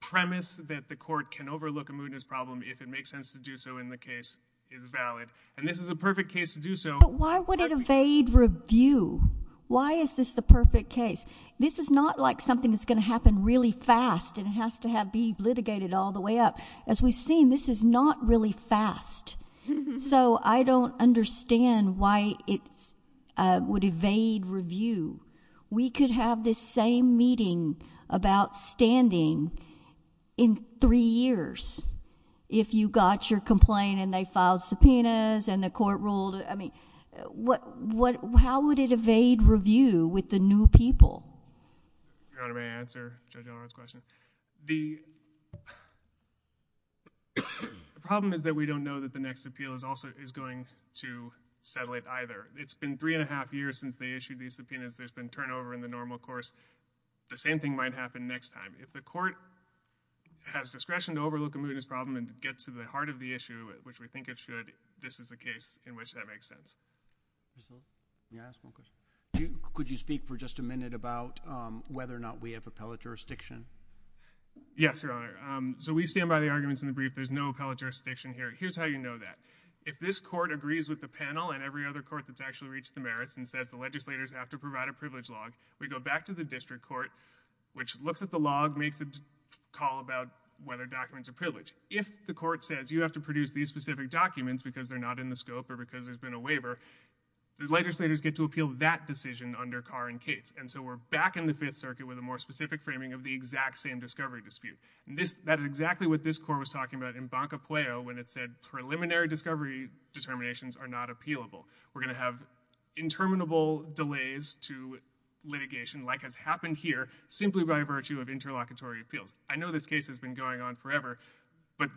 premise that the court can overlook a mootness problem if it makes sense to do so in the case is valid. And this is a perfect case to do so. But why would it evade review? Why is this the perfect case? This is not like something that's going to happen really fast and has to be litigated all the way up. As we've seen, this is not really fast. So I don't understand why it would evade review. We could have this same meeting about standing in three years if you got your complaint and they filed subpoenas and the court ruled, I mean, how would it evade review with the new people? Your Honor, may I answer Judge Allred's question? The problem is that we don't know that the next appeal is going to settle it either. It's been three and a half years since they issued these subpoenas. There's been turnover in the normal course. The same thing might happen next time. If the court has discretion to overlook a mootness problem and get to the heart of the issue, which we think it should, this is a case in which that makes sense. Yes, sir. Can I ask one question? Could you speak for just a minute about whether or not we have appellate jurisdiction? Yes, Your Honor. So we stand by the arguments in the brief. There's no appellate jurisdiction here. Here's how you know that. If this court agrees with the panel and every other court that's actually reached the merits and says the legislators have to provide a privilege log, we go back to the district court, which looks at the log, makes a call about whether documents are privileged. If the court says you have to produce these specific documents because they're not in the scope or because there's been a waiver, the legislators get to appeal that decision under Carr and Cates. And so we're back in the Fifth Circuit with a more specific framing of the exact same discovery dispute. That is exactly what this court was talking about in Banco Pueo when it said preliminary discovery determinations are not appealable. We're going to have interminable delays to litigation like has happened here simply by virtue of interlocutory appeals. I know this case has been going on forever, but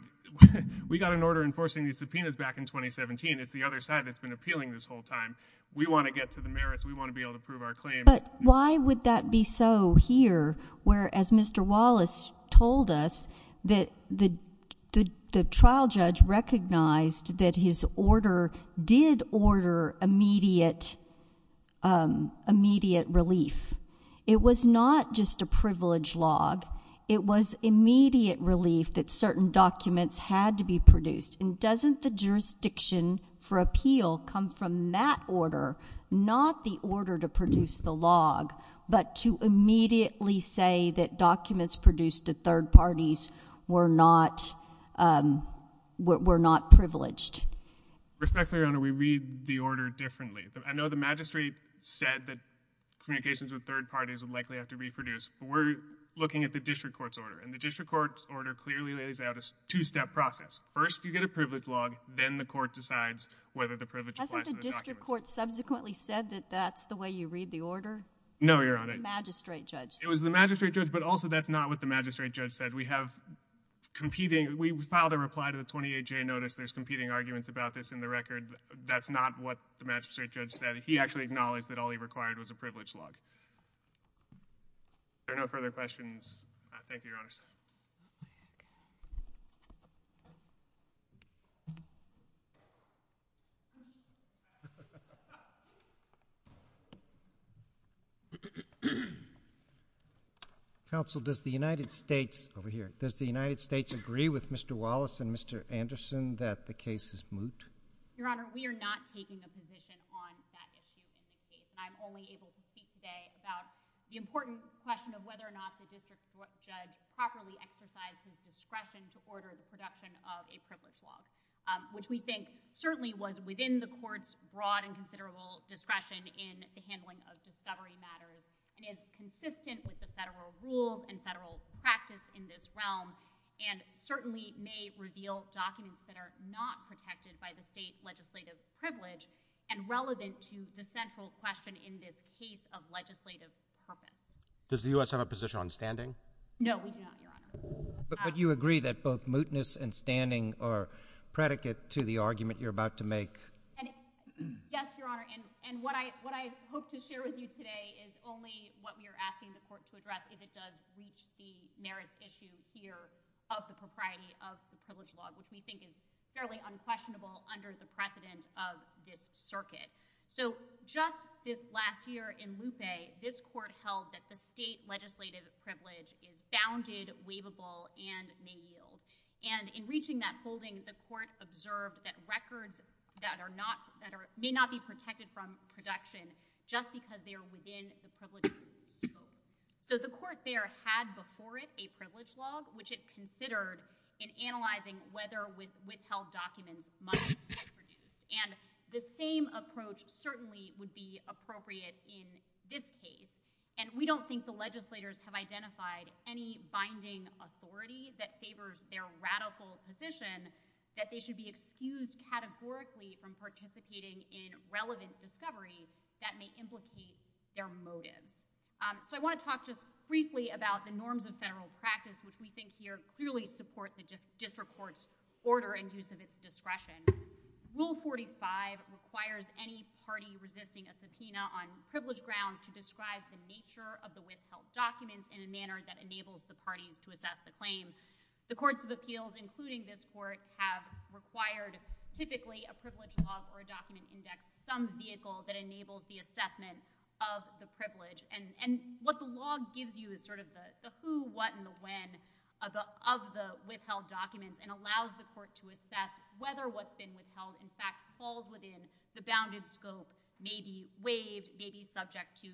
we got an order enforcing these subpoenas back in 2017. It's the other side that's been appealing this whole time. We want to get to the merits. We want to be able to prove our claim. But why would that be so here where, as Mr. Wallace told us, that the trial judge recognized that his order did order immediate relief. It was not just a privilege log. It was immediate relief that certain documents had to be produced. And doesn't the jurisdiction for appeal come from that order, not the order to produce the log, but to immediately say that documents produced to third parties were not privileged? Respectfully, Your Honor, we read the order differently. I know the magistrate said that communications with third parties would likely have to reproduce, but we're looking at the district court's order. And the district court's order clearly lays out a two-step process. First, you get a privilege log. Then the court decides whether the privilege applies to the documents. The court subsequently said that that's the way you read the order? No, Your Honor. The magistrate judge said. It was the magistrate judge, but also that's not what the magistrate judge said. We filed a reply to the 28-J notice. There's competing arguments about this in the record. That's not what the magistrate judge said. He actually acknowledged that all he required was a privilege log. Are there no further questions? Thank you, Your Honor. Counsel, does the United States... Over here. Does the United States agree with Mr. Wallace and Mr. Anderson that the case is moot? Your Honor, we are not taking a position on that issue in this case. And I'm only able to speak today about the important question of whether or not the district court judge properly exercised his discretion and consistent jurisdiction. And I'm not sure that the district court in the handling of discovery matters and is consistent with the federal rules and federal practice in this realm and certainly may reveal documents that are not protected by the state legislative privilege and relevant to the central question in this case of legislative purpose. Does the U.S. have a position on standing? No, we do not, Your Honor. But would you agree that both mootness and standing are predicate to the argument you're about to make? And yes, Your Honor. And what I hope to share with you today is only what we are asking the court to address if it does reach the merits issue here of the propriety of the privilege law, which we think is fairly unquestionable under the precedent of this circuit. So just this last year in Lupe, this court held that the state legislative privilege is bounded, waivable, and may yield. And in reaching that holding, the court observed that records that may not be protected from production just because they are within the privilege code. So the court there had before it a privilege law, which it considered in analyzing whether withheld documents must be produced. And the same approach certainly would be appropriate in this case. And we don't think the legislators have identified any binding authority that favors their radical position that they should be excused categorically from participating in relevant discovery that may implicate their motives. So I wanna talk just briefly about the norms of federal practice, which we think here clearly support the district court's order and use of its discretion. Rule 45 requires any party resisting a subpoena on privilege grounds to describe the nature of the withheld documents in a manner that enables the parties to assess the claim. The courts of appeals, including this court, have required typically a privilege law or a document index, some vehicle that enables the assessment of the privilege. And what the law gives you is sort of the who, what, and the when of the withheld documents and allows the court to assess whether what's been withheld, in fact, falls within the bounded scope, may be waived, may be subject to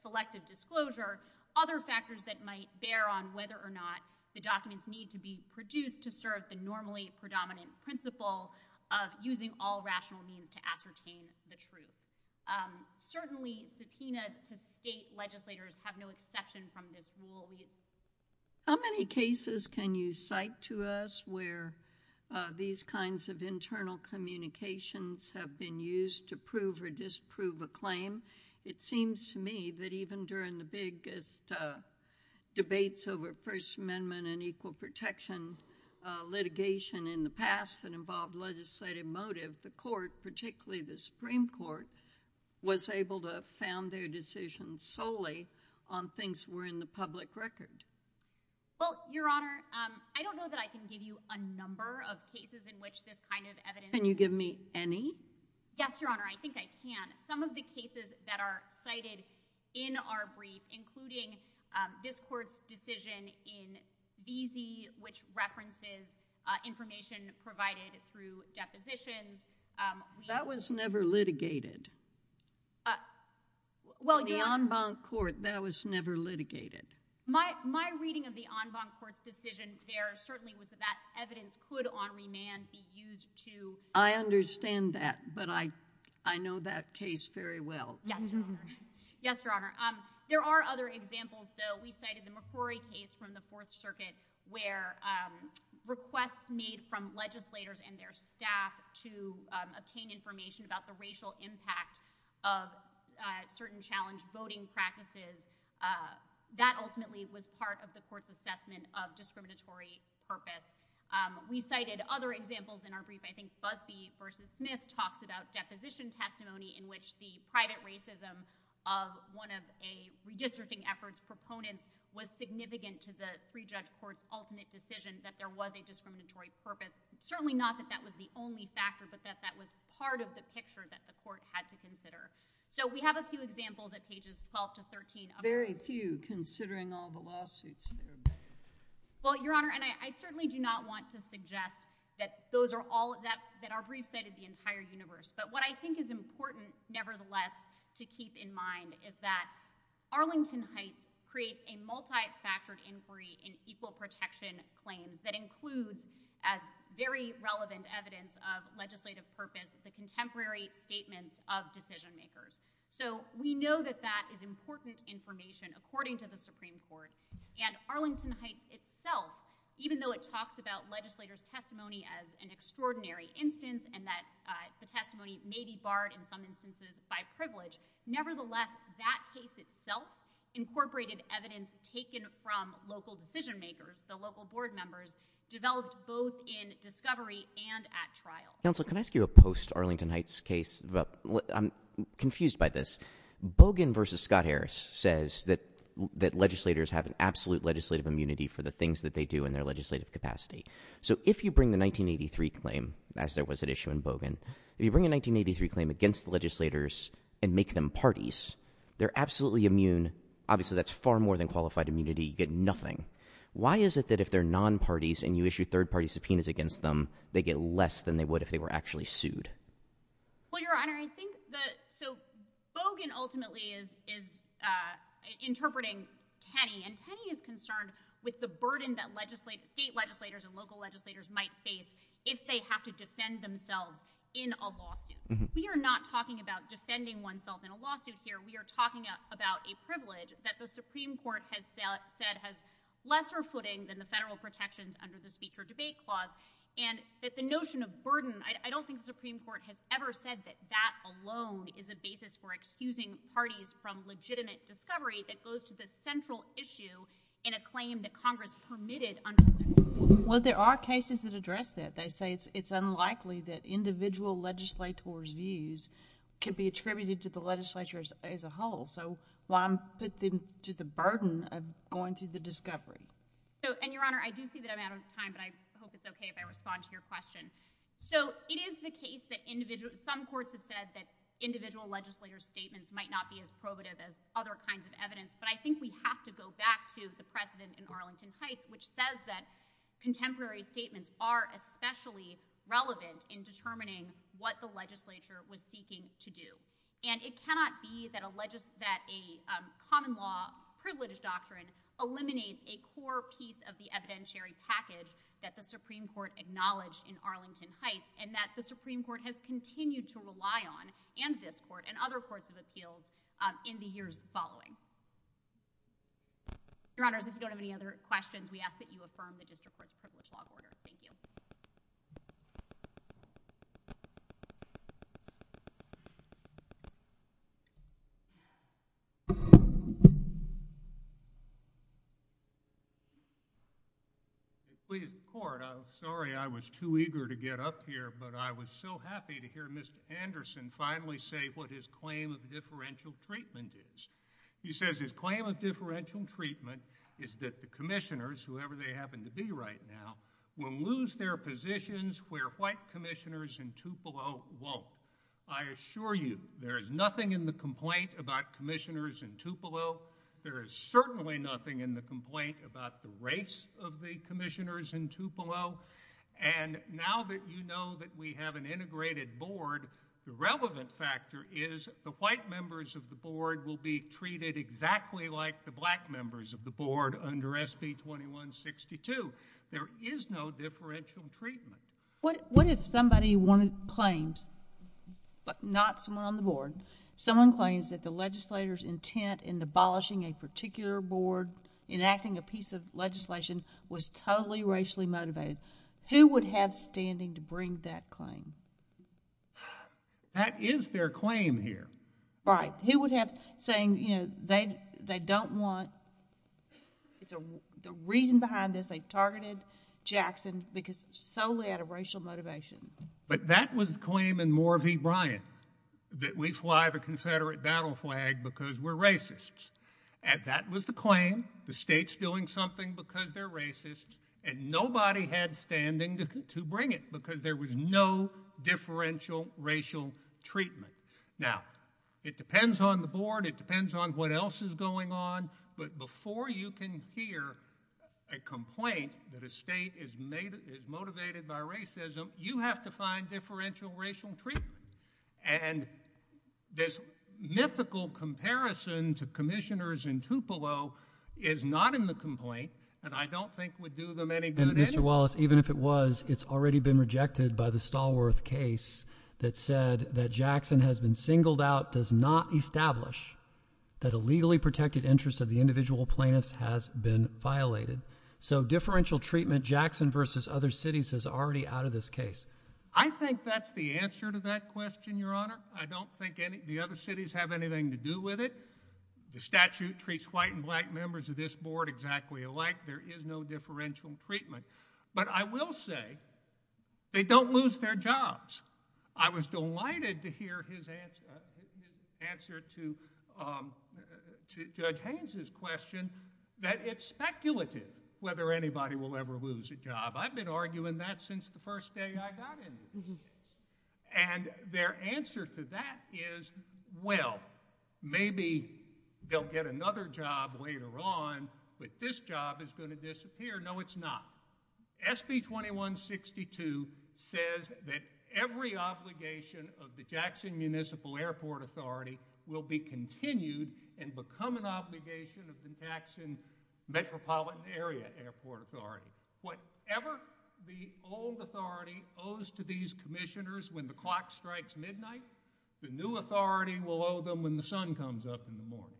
selective disclosure, other factors that might bear on whether or not the documents need to be produced to serve the normally predominant principle of using all rational means to ascertain the truth. Certainly, subpoenas to state legislators have no exception from this rule. How many cases can you cite to us where these kinds of internal communications have been used to prove or disprove a claim? It seems to me that even during the biggest debates over First Amendment and equal protection litigation in the past that involved legislative motive, the court, particularly the Supreme Court, was able to found their decisions solely on things that were in the public record. Well, Your Honor, I don't know that I can give you a number of cases in which this kind of evidence- Can you give me any? Yes, Your Honor, I think I can. Some of the cases that are cited in our brief, including this court's decision in Beezy, which references information provided through depositions- That was never litigated. Well, the en banc court, that was never litigated. My reading of the en banc court's decision there certainly was that that evidence could, on remand, be used to- I understand that, but I know that case very well. Yes, Your Honor, yes, Your Honor. There are other examples, though. We cited the McCrory case from the Fourth Circuit where requests made from legislators and their staff to obtain information about the racial impact of certain challenge voting practices, that ultimately was part of the court's assessment of discriminatory purpose. We cited other examples in our brief. I think Busby v. Smith talks about deposition testimony in which the private racism of one of a redistricting effort's proponents was significant to the pre-judge court's ultimate decision that there was a discriminatory purpose. Certainly not that that was the only factor, but that that was part of the picture that the court had to consider. So we have a few examples at pages 12 to 13. Very few, considering all the lawsuits that are made. Well, Your Honor, and I certainly do not want to suggest that those are all, that our brief cited the entire universe. But what I think is important, nevertheless, to keep in mind is that Arlington Heights creates a multi-factored inquiry in equal protection claims that includes, as very relevant evidence of legislative purpose, the contemporary statements of decision makers. So we know that that is important information according to the Supreme Court. And Arlington Heights itself, even though it talks about legislators' testimony as an extraordinary instance and that the testimony may be barred, in some instances, by privilege, nevertheless, that case itself incorporated evidence taken from local decision makers, the local board members, developed both in discovery and at trial. Counsel, can I ask you a post-Arlington Heights case? I'm confused by this. Bogan v. Scott Harris says that legislators have an absolute legislative immunity for the things that they do in their legislative capacity. So if you bring the 1983 claim, as there was at issue in Bogan, if you bring a 1983 claim against the legislators and make them parties, they're absolutely immune. Obviously, that's far more than qualified immunity. You get nothing. Why is it that if they're non-parties and you issue third-party subpoenas against them, they get less than they would if they were actually sued? Well, Your Honor, I think that, so Bogan ultimately is interpreting Tenney, and Tenney is concerned with the burden state legislators and local legislators might face if they have to defend themselves in a lawsuit. We are not talking about defending oneself in a lawsuit here. We are talking about a privilege that the Supreme Court has said has lesser footing than the federal protections under the Speech or Debate Clause, and that the notion of burden, I don't think the Supreme Court has ever said that that alone is a basis for excusing parties from legitimate discovery that goes to the central issue in a claim that Congress permitted. Well, there are cases that address that. They say it's unlikely that individual legislators' views can be attributed to the legislature as a whole, so why put them to the burden of going through the discovery? So, and Your Honor, I do see that I'm out of time, but I hope it's okay if I respond to your question. So it is the case that some courts have said that individual legislator statements might not be as probative as other kinds of evidence, but I think we have to go back to the precedent in Arlington Heights, which says that contemporary statements are especially relevant in determining what the legislature was seeking to do, and it cannot be that a common law privilege doctrine eliminates a core piece of the evidentiary package that the Supreme Court acknowledged in Arlington Heights and that the Supreme Court has continued to rely on, and this court and other courts of appeals in the years following. Your Honors, if you don't have any other questions, we ask that you affirm the district privilege law order. Thank you. Please, Court, I'm sorry I was too eager to get up here, but I was so happy to hear Mr. Anderson finally say what his claim of differential treatment is. He says his claim of differential treatment is that the commissioners, whoever they happen to be right now, will lose their positions where white commissioners in Tupelo won't. I assure you there is nothing in the complaint about commissioners in Tupelo. There is certainly nothing in the complaint about the race of the commissioners in Tupelo, and now that you know that we have an integrated board, the relevant factor is the white members of the board will be treated exactly like the black members of the board under SB 2162. There is no differential treatment. What if somebody wanted claims, but not someone on the board, someone claims that the legislator's intent in abolishing a particular board, enacting a piece of legislation, was totally racially motivated? Who would have standing to bring that claim? That is their claim here. Right. Who would have saying, you know, they don't want, the reason behind this, they targeted Jackson because solely out of racial motivation. But that was the claim in Moore v. Bryant that we fly the confederate battle flag because we're racists, and that was the claim. The state's doing something because they're racist, and nobody had standing to bring it because there was no differential racial treatment. Now, it depends on the board. It depends on what else is going on. But before you can hear a complaint that a state is motivated by racism, you have to find differential racial treatment. And this mythical comparison to commissioners in Tupelo is not in the complaint, and I don't think would do them any good. And Mr. Wallace, even if it was, it's already been rejected by the Stallworth case that said that Jackson has been singled out, does not establish that a legally protected interest of the individual plaintiffs has been violated. So differential treatment, Jackson v. other cities is already out of this case. I think that's the answer to that question, Your Honor. I don't think any of the other cities have anything to do with it. The statute treats white and black members of this board exactly alike. There is no differential treatment. But I will say they don't lose their jobs. I was delighted to hear his answer to Judge Haynes' question that it's speculative whether anybody will ever lose a job. I've been arguing that since the first day I got in. And their answer to that is, well, maybe they'll get another job later on, but this job is gonna disappear. No, it's not. SB 2162 says that every obligation of the Jackson Municipal Airport Authority will be continued and become an obligation of the Jackson Metropolitan Area Airport Authority. Whatever the old authority owes to these commissioners when the clock strikes midnight, the new authority will owe them when the sun comes up in the morning.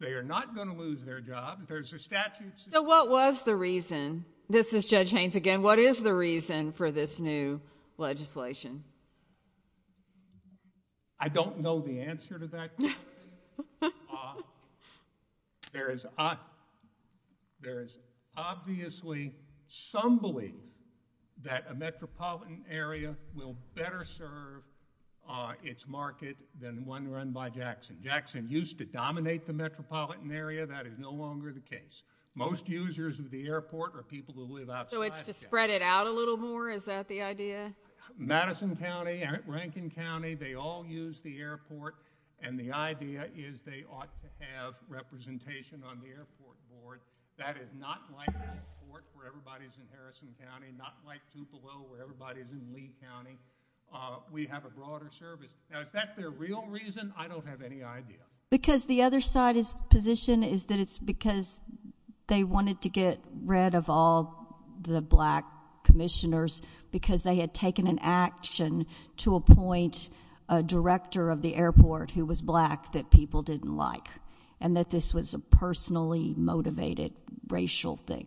They are not gonna lose their jobs. There's a statute. So what was the reason? This is Judge Haynes again. What is the reason for this new legislation? I don't know the answer to that. There is obviously some belief that a metropolitan area will better serve its market than one run by Jackson. Jackson used to dominate the metropolitan area. That is no longer the case. Most users of the airport are people who live outside. So it's to spread it out a little more? Is that the idea? Madison County, Rankin County, they all use the airport. And the idea is they ought to have representation on the airport board. That is not like the airport where everybody's in Harrison County, not like Tupelo where everybody's in Lee County. We have a broader service. Now, is that their real reason? I don't have any idea. Because the other side's position is that it's because they wanted to get rid of all the black commissioners because they had taken an action to appoint a director of the airport who was black that people didn't like and that this was a personally motivated racial thing.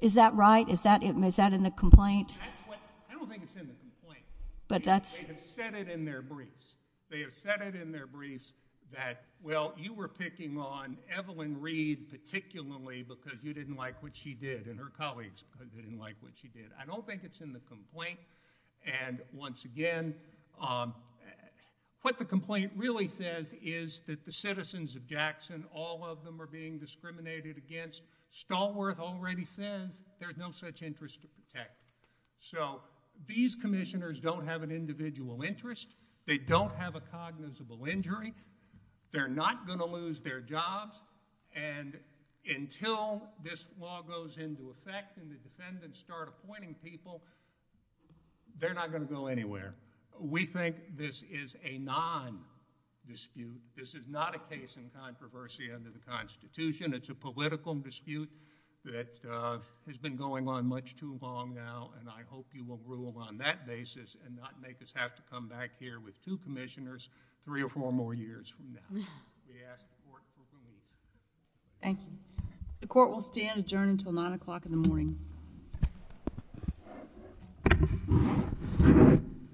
Is that right? Is that in the complaint? That's what, I don't think it's in the complaint. But that's- They have said it in their briefs. They have said it in their briefs that, well, you were picking on Evelyn Reed, particularly because you didn't like what she did and her colleagues didn't like what she did. I don't think it's in the complaint. And once again, what the complaint really says is that the citizens of Jackson, all of them are being discriminated against. Stallworth already says there's no such interest to protect. So these commissioners don't have an individual interest. They don't have a cognizable injury. They're not going to lose their jobs. And until this law goes into effect and the defendants start appointing people, they're not going to go anywhere. We think this is a non-dispute. This is not a case in controversy under the Constitution. It's a political dispute that has been going on much too long now. And I hope you will rule on that basis and not make us have to come back here with two commissioners three or four more years from now. Yes. Thank you. The court will stand adjourned until nine o'clock in the morning.